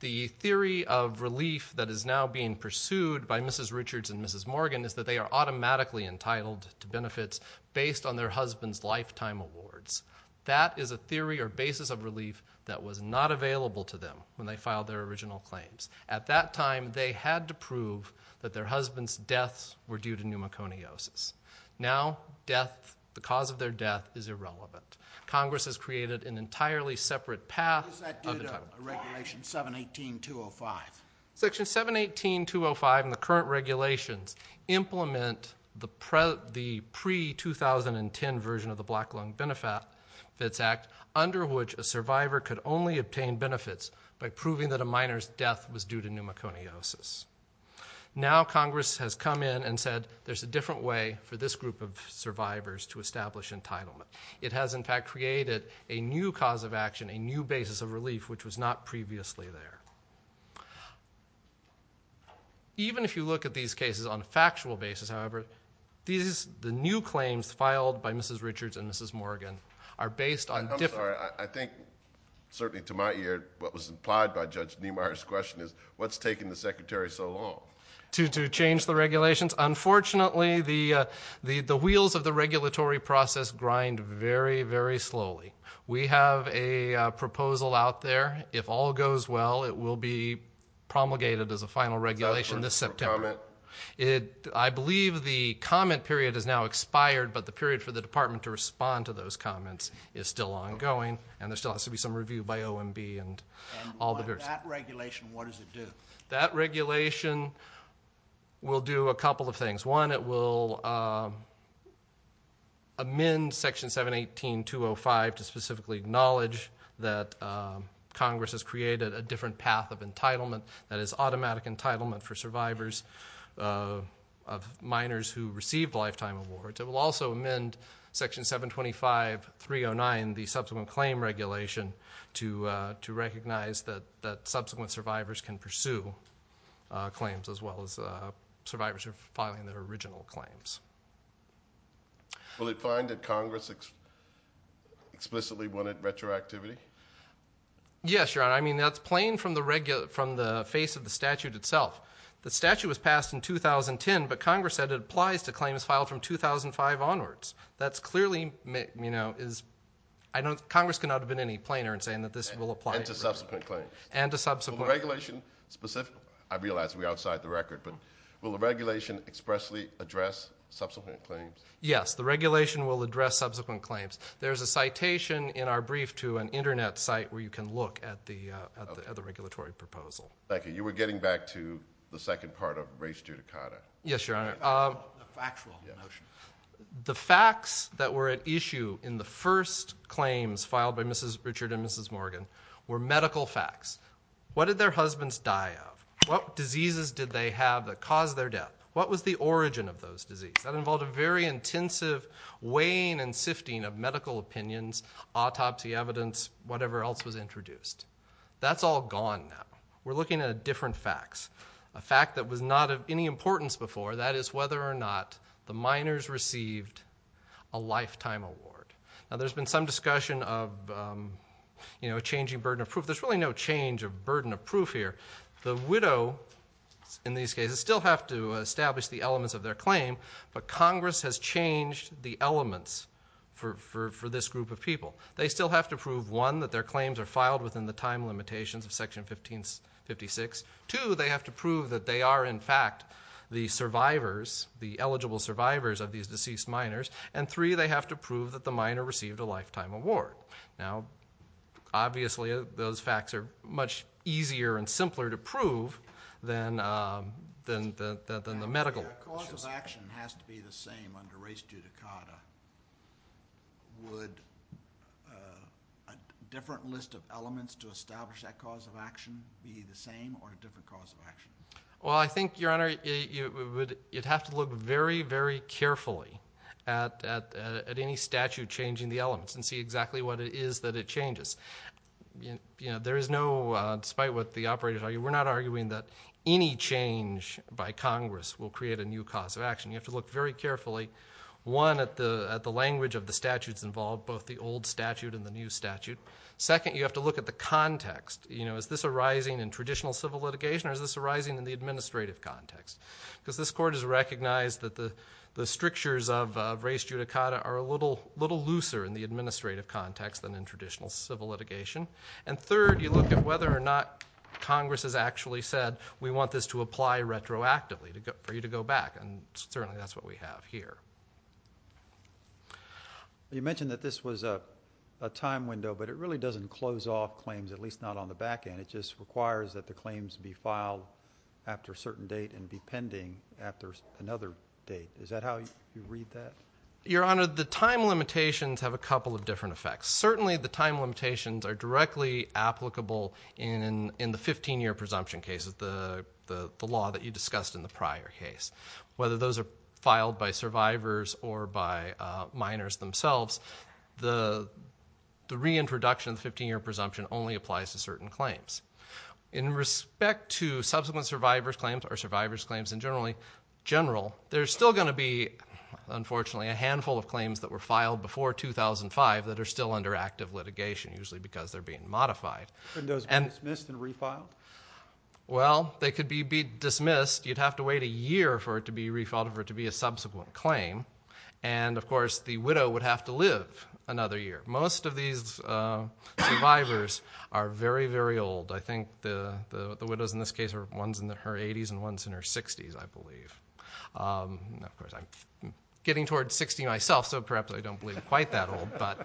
the theory of relief that is now being pursued by Mrs. Richards and Mrs. Morgan is that they are automatically entitled to benefits based on their husband's lifetime awards. That is a theory or basis of relief that was not available to them when they filed their original claims. At that time, they had to prove that their husband's deaths were due to pneumoconiosis. Now, the cause of their death is irrelevant. Congress has created an entirely separate path. What does that do to Regulation 718.205? Section 718.205 and the current regulations implement the pre-2010 version of the Black Lung Benefits Act under which a survivor could only obtain benefits by proving that a minor's death was due to pneumoconiosis. Now Congress has come in and said there's a different way for this group of survivors to establish entitlement. It has, in fact, created a new cause of action, a new basis of relief, which was not previously there. Even if you look at these cases on a factual basis, however, the new claims filed by Mrs. Richards and Mrs. Morgan are based on different- I'm sorry. I think, certainly to my ear, what was implied by Judge Niemeyer's question is what's taking the Secretary so long? To change the regulations? Unfortunately, the wheels of the regulatory process grind very, very slowly. We have a proposal out there. If all goes well, it will be promulgated as a final regulation this September. I believe the comment period has now expired, but the period for the Department to respond to those comments is still ongoing, and there still has to be some review by OMB and all the others. That regulation, what does it do? That regulation will do a couple of things. One, it will amend Section 718.205 to specifically acknowledge that Congress has created a different path of entitlement, that is automatic entitlement for survivors of minors who received lifetime awards. It will also amend Section 725.309, the subsequent claim regulation, to recognize that subsequent survivors can pursue claims as well as survivors filing their original claims. Will it find that Congress explicitly wanted retroactivity? Yes, Your Honor. I mean, that's plain from the face of the statute itself. The statute was passed in 2010, but Congress said it applies to claims filed from 2005 onwards. That's clearly, you know, Congress cannot have been any plainer in saying that this will apply. And to subsequent claims. And to subsequent claims. Will the regulation, I realize we're outside the record, but will the regulation expressly address subsequent claims? Yes, the regulation will address subsequent claims. There's a citation in our brief to an Internet site where you can look at the regulatory proposal. Thank you. You were getting back to the second part of race judicata. Yes, Your Honor. The facts that were at issue in the first claims filed by Mrs. Richard and Mrs. Morgan were medical facts. What did their husbands die of? What diseases did they have that caused their death? What was the origin of those diseases? That involved a very intensive weighing and sifting of medical opinions, autopsy evidence, whatever else was introduced. That's all gone now. We're looking at different facts. A fact that was not of any importance before, that is whether or not the minors received a lifetime award. Now, there's been some discussion of, you know, changing burden of proof. There's really no change of burden of proof here. The widow, in these cases, still have to establish the elements of their claim, but Congress has changed the elements for this group of people. They still have to prove, one, that their claims are filed within the time limitations of Section 1556. Two, they have to prove that they are, in fact, the survivors, the eligible survivors of these deceased minors. And three, they have to prove that the minor received a lifetime award. Now, obviously, those facts are much easier and simpler to prove than the medical ones. If a cause of action has to be the same under res judicata, would a different list of elements to establish that cause of action be the same or a different cause of action? Well, I think, Your Honor, it has to look very, very carefully at any statute changing the elements and see exactly what it is that it changes. You know, there is no, despite what the operators argue, we're not arguing that any change by Congress will create a new cause of action. You have to look very carefully, one, at the language of the statutes involved, both the old statute and the new statute. Second, you have to look at the context. You know, is this arising in traditional civil litigation or is this arising in the administrative context? Because this Court has recognized that the strictures of res judicata are a little looser in the administrative context than in traditional civil litigation. And third, you look at whether or not Congress has actually said, we want this to apply retroactively for you to go back, and certainly that's what we have here. You mentioned that this was a time window, but it really doesn't close off claims, at least not on the back end. It just requires that the claims be filed after a certain date and be pending after another date. Is that how you read that? Your Honor, the time limitations have a couple of different effects. Certainly the time limitations are directly applicable in the 15-year presumption case, the law that you discussed in the prior case. Whether those are filed by survivors or by minors themselves, the reintroduction 15-year presumption only applies to certain claims. In respect to subsequent survivor's claims or survivor's claims in general, there's still going to be, unfortunately, a handful of claims that were filed before 2005 that are still under active litigation, usually because they're being modified. And those can be dismissed and refiled? Well, they could be dismissed. You'd have to wait a year for it to be refiled, for it to be a subsequent claim. And, of course, the widow would have to live another year. Most of these survivors are very, very old. I think the widows in this case are ones in their 80s and ones in their 60s, I believe. Of course, I'm getting towards 60 myself, so perhaps I don't believe quite that old. But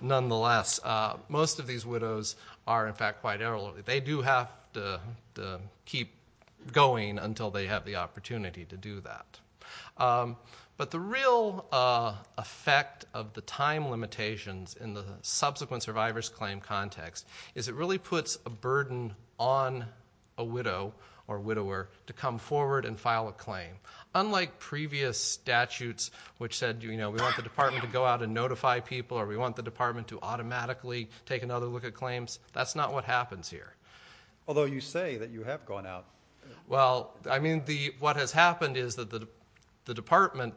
nonetheless, most of these widows are, in fact, quite elderly. They do have to keep going until they have the opportunity to do that. But the real effect of the time limitations in the subsequent survivor's claim context is it really puts a burden on a widow or widower to come forward and file a claim. Unlike previous statutes which said, you know, we want the department to go out and notify people or we want the department to automatically take another look at claims, that's not what happens here. Although you say that you have gone out. Well, I mean, what has happened is that the department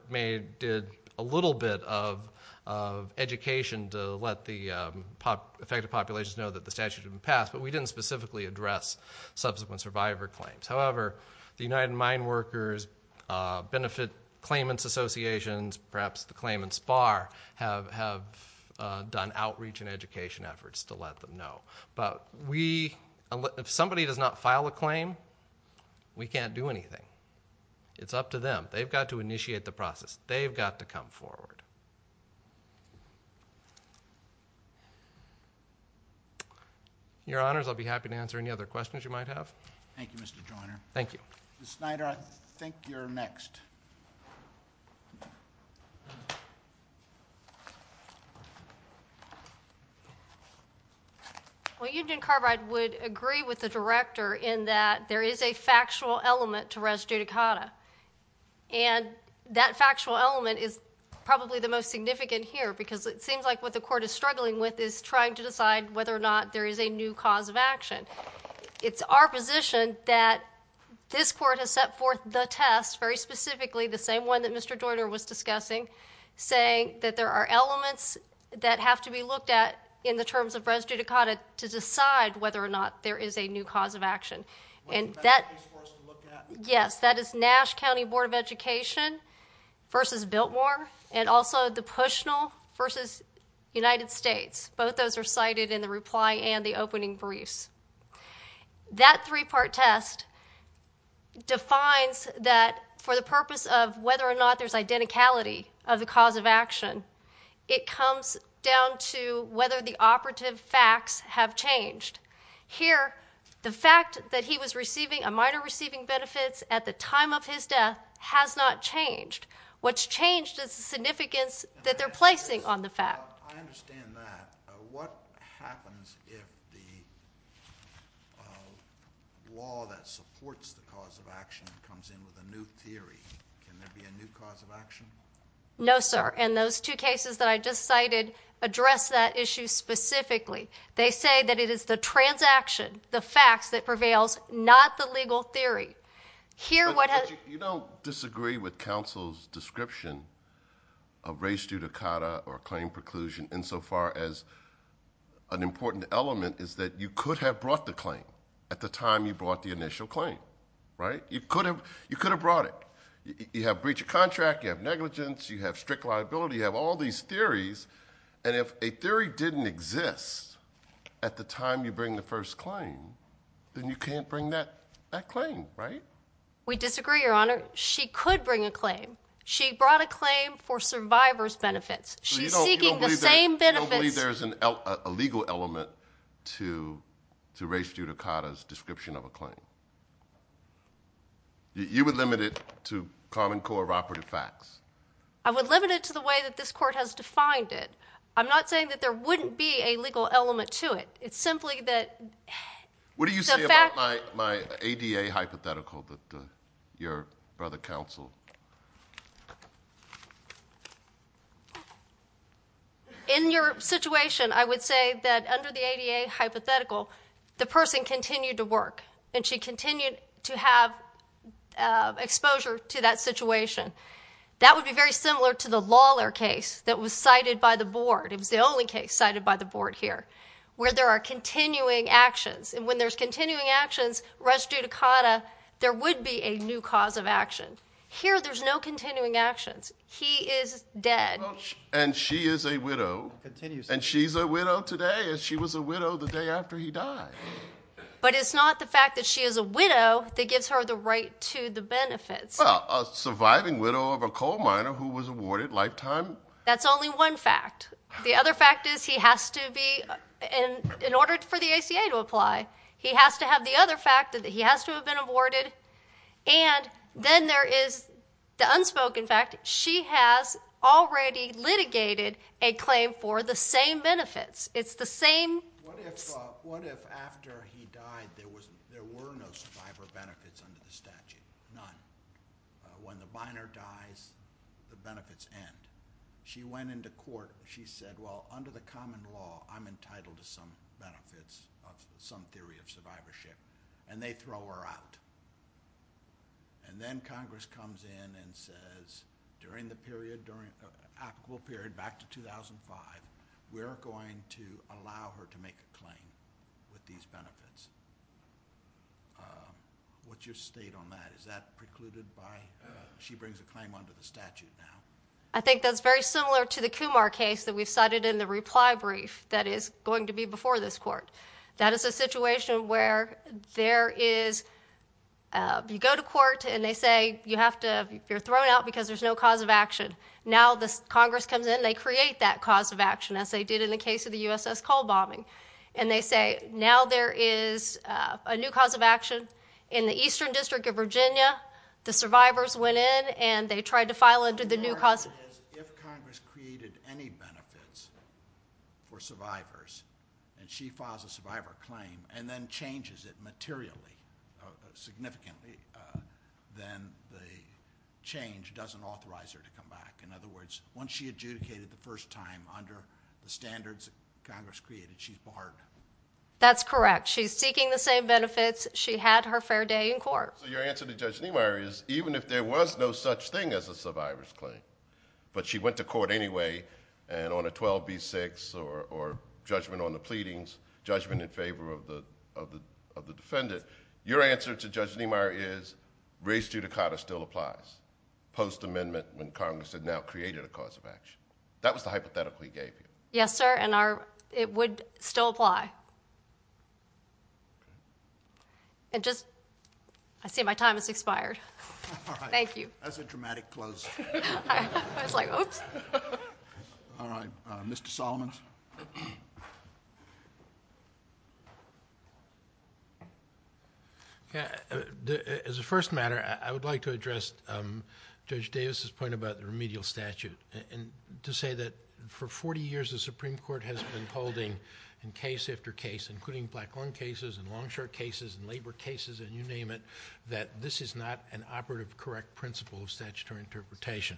did a little bit of education to let the affected populations know that the statute had been passed, but we didn't specifically address subsequent survivor claims. However, the United Mine Workers Benefit Claimants Association, perhaps the claimants bar, have done outreach and education efforts to let them know. But if somebody does not file a claim, we can't do anything. It's up to them. They've got to initiate the process. They've got to come forward. Your Honors, I'll be happy to answer any other questions you might have. Thank you, Mr. Joyner. Thank you. Ms. Snyder, I think you're next. Well, Eugene Carbide would agree with the Director in that there is a factual element to res judicata, and that factual element is probably the most significant here because it seems like what the Court is struggling with is trying to decide whether or not there is a new cause of action. It's our position that this Court has set forth the test very specifically, the same one that Mr. Joyner was discussing, saying that there are elements that have to be looked at in the terms of res judicata to decide whether or not there is a new cause of action. And that is Nash County Board of Education v. Biltmore and also the Pushnell v. United States. Both those are cited in the reply and the opening briefs. That three-part test defines that for the purpose of whether or not there's identicality of the cause of action, it comes down to whether the operative facts have changed. Here, the fact that he was receiving a minor receiving benefits at the time of his death has not changed. What's changed is the significance that they're placing on the fact. Well, I understand that. What happens if the law that supports the cause of action comes in with a new theory? Can there be a new cause of action? No, sir. And those two cases that I just cited address that issue specifically. They say that it is the transaction, the facts, that prevails, not the legal theory. You don't disagree with counsel's description of res judicata or claim preclusion insofar as an important element is that you could have brought the claim at the time you brought the initial claim, right? You could have brought it. You have breach of contract, you have negligence, you have strict liability, you have all these theories, and if a theory didn't exist at the time you bring the first claim, then you can't bring that claim, right? We disagree, Your Honor. She could bring a claim. She brought a claim for survivor's benefits. She's seeking the same benefits. So you don't believe there's a legal element to res judicata's description of a claim? You would limit it to common cooperative facts? I would limit it to the way that this court has defined it. I'm not saying that there wouldn't be a legal element to it. What do you say about my ADA hypothetical that your brother counseled? In your situation, I would say that under the ADA hypothetical, the person continued to work, and she continued to have exposure to that situation. That would be very similar to the Lawler case that was cited by the board. It was the only case cited by the board here where there are continuing actions, and when there's continuing actions, res judicata, there would be a new cause of action. Here, there's no continuing actions. He is dead. And she is a widow. And she's a widow today, and she was a widow the day after he died. But it's not the fact that she is a widow that gives her the right to the benefits. Well, a surviving widow of a coal miner who was awarded lifetime… That's only one fact. The other fact is he has to be, in order for the ACA to apply, he has to have the other fact that he has to have been awarded. And then there is the unspoken fact she has already litigated a claim for the same benefits. It's the same… What if after he died there were no survivor benefits under the statute? None. When the miner dies, the benefits end. She went into court. She said, well, under the common law, I'm entitled to some benefits, some theory of survivorship. And they throw her out. And then Congress comes in and says, during the period, during the actual period back to 2005, we're going to allow her to make a claim with these benefits. What's your state on that? Is that precluded by she brings a claim under the statute now? I think that's very similar to the Kumar case that we cited in the reply brief that is going to be before this court. That is a situation where there is you go to court and they say you're thrown out because there's no cause of action. Now Congress comes in and they create that cause of action, as they did in the case of the USS Cole bombing. And they say now there is a new cause of action. In the Eastern District of Virginia, the survivors went in and they tried to file under the new cause of action. If Congress created any benefits for survivors and she files a survivor claim and then changes it materially, significantly, then the change doesn't authorize her to come back. In other words, once she adjudicated the first time under the standards that Congress created, she barred it. That's correct. She's seeking the same benefits. She had her fair day in court. So your answer to Judge Niemeyer is even if there was no such thing as a survivor's claim but she went to court anyway and on a 12B6 or judgment on the pleadings, judgment in favor of the defendant, your answer to Judge Niemeyer is race judicata still applies post-amendment when Congress had now created a cause of action. That was the hypothetical he gave you. Yes, sir, and it would still apply. I see my time has expired. Thank you. That was a dramatic close. I was like, oh. All right, Mr. Solomon. As a first matter, I would like to address Judge Davis's point about the remedial statute and to say that for 40 years, the Supreme Court has been holding in case after case, including Black Long Cases and Long Short Cases and Labor Cases and you name it, that this is not an operative correct principle of statutory interpretation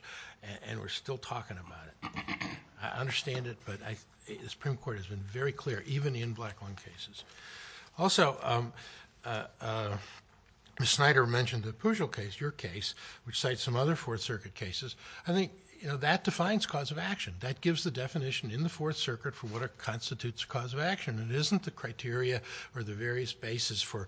and we're still talking about it. I understand it, but the Supreme Court has been very clear, even in Black Long Cases. Also, Ms. Snyder mentioned the Pujol case, your case, which cites some other Fourth Circuit cases. I think that defines cause of action. That gives the definition in the Fourth Circuit for what constitutes cause of action. It isn't the criteria or the various bases for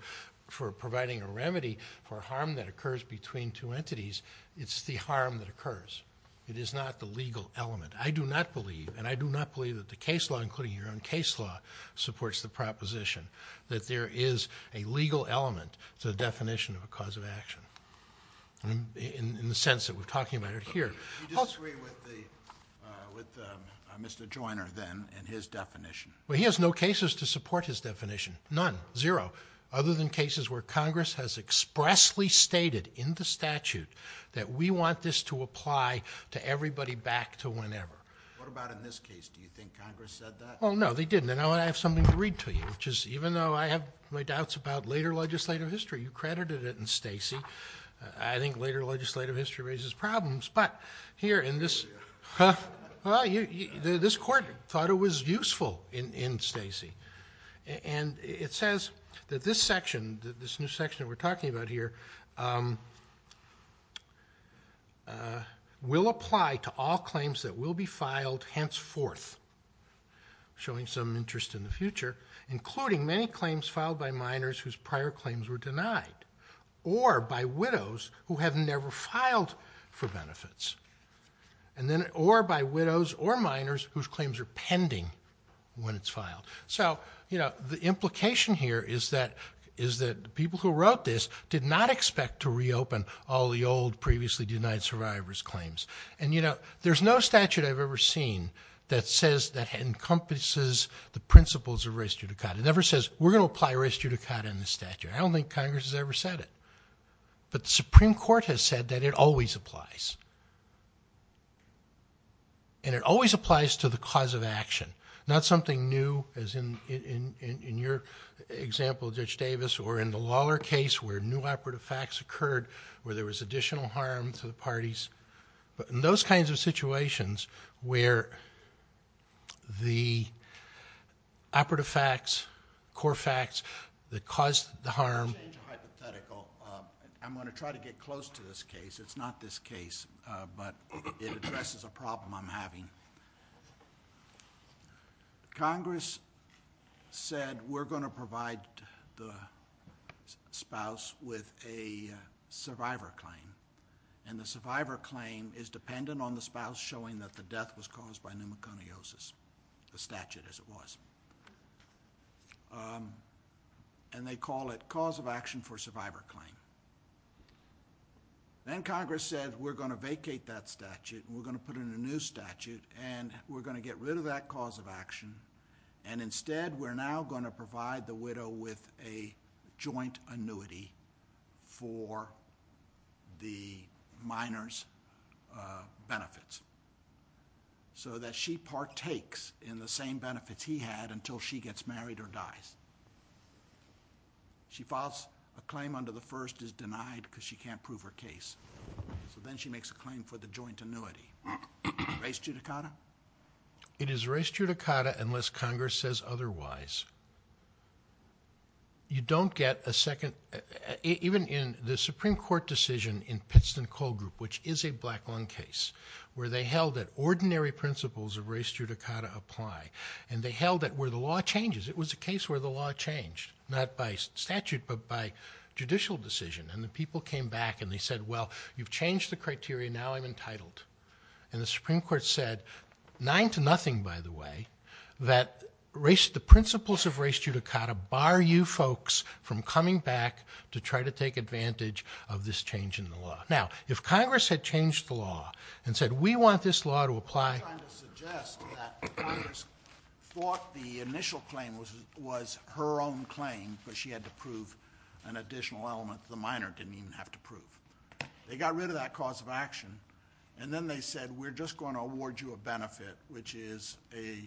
providing a remedy for harm that occurs between two entities. It's the harm that occurs. It is not the legal element. I do not believe, and I do not believe that the case law, including your own case law, supports the proposition that there is a legal element to the definition of a cause of action in the sense that we're talking about it here. Do you disagree with Mr. Joyner, then, in his definition? He has no cases to support his definition, none, zero, other than cases where Congress has expressly stated in the statute that we want this to apply to everybody back to whenever. What about in this case? Do you think Congress said that? No, they didn't, and I have something to read to you, which is even though I have my doubts about later legislative history, you credited it in Stacey, I think later legislative history raises problems, but here in this court thought it was useful in Stacey, and it says that this section, this new section that we're talking about here, will apply to all claims that will be filed henceforth, showing some interest in the future, including many claims filed by minors whose prior claims were denied or by widows who have never filed for benefits, or by widows or minors whose claims are pending when it's filed. So, you know, the implication here is that people who wrote this did not expect to reopen all the old previously denied survivors' claims. And, you know, there's no statute I've ever seen that says that encompasses the principles of res judicata. It never says we're going to apply res judicata in the statute. I don't think Congress has ever said it. But the Supreme Court has said that it always applies. And it always applies to the cause of action, not something new as in your example, Judge Davis, or in the Lawler case where new operative facts occurred, where there was additional harm to the parties, but in those kinds of situations where the operative facts, core facts that caused the harm. I'm going to try to get close to this case. It's not this case, but it addresses a problem I'm having. Congress said we're going to provide the spouse with a survivor claim. And the survivor claim is dependent on the spouse showing that the death was caused by pneumoconiosis, the statute as it was. And they call it cause of action for survivor claim. Then Congress said we're going to vacate that statute and we're going to put in a new statute and we're going to get rid of that cause of action. And instead we're now going to provide the widow with a joint annuity for the minor's benefits so that she partakes in the same benefit he had until she gets married or dies. She files a claim under the first is denied because she can't prove her case. So then she makes a claim for the joint annuity. Race judicata? It is race judicata unless Congress says otherwise. You don't get a second, even in the Supreme Court decision in Pittston Coal Group, which is a black-owned case, where they held that ordinary principles of race judicata apply. And they held that where the law changes. It was a case where the law changed, not by statute but by judicial decision. And the people came back and they said, well, you've changed the criteria, now I'm entitled. And the Supreme Court said, nine to nothing, by the way, that the principles of race judicata bar you folks from coming back to try to take advantage of this change in the law. Now, if Congress had changed the law and said we want this law to apply... I'm trying to suggest that Congress thought the initial claim was her own claim but she had to prove an additional element that the minor didn't even have to prove. They got rid of that cause of action and then they said we're just going to award you a benefit, which is a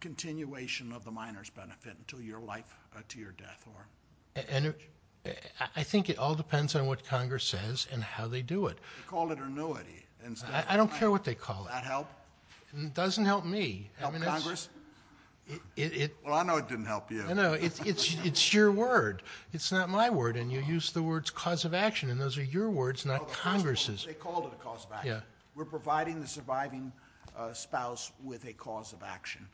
continuation of the minor's benefit until your life or to your death. I think it all depends on what Congress says and how they do it. They called it annuity. I don't care what they call it. Does that help? It doesn't help me. Help Congress? Well, I know it didn't help you. No, it's your word. It's not my word. And you used the words cause of action and those are your words, not Congress's. They called it a cause of action. We're providing the surviving spouse with a cause of action.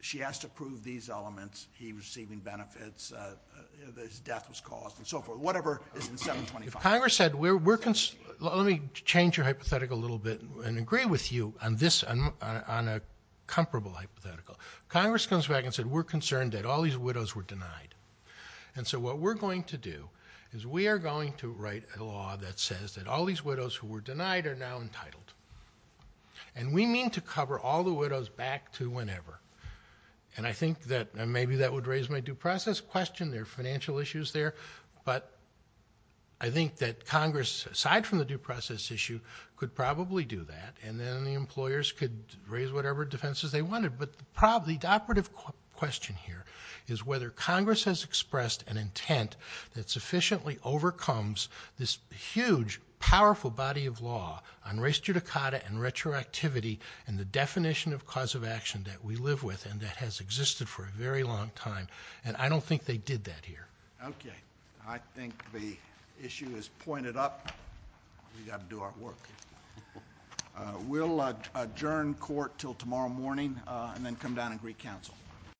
She has to prove these elements, he receiving benefits, his death was caused, and so forth. Congress said we're concerned. Let me change your hypothetical a little bit and agree with you on a comparable hypothetical. Congress comes back and said we're concerned that all these widows were denied. And so what we're going to do is we are going to write a law that says that all these widows who were denied are now entitled. And we mean to cover all the widows back to whenever. And I think that maybe that would raise my due process question. There are financial issues there. But I think that Congress, aside from the due process issue, could probably do that and then the employers could raise whatever defenses they wanted. But the operative question here is whether Congress has expressed an intent that sufficiently overcomes this huge, powerful body of law on res judicata and retroactivity and the definition of cause of action that we live with and that has existed for a very long time. And I don't think they did that here. Okay. I think the issue is pointed up. We've got to do our work. We'll adjourn court until tomorrow morning and then come down and recouncil.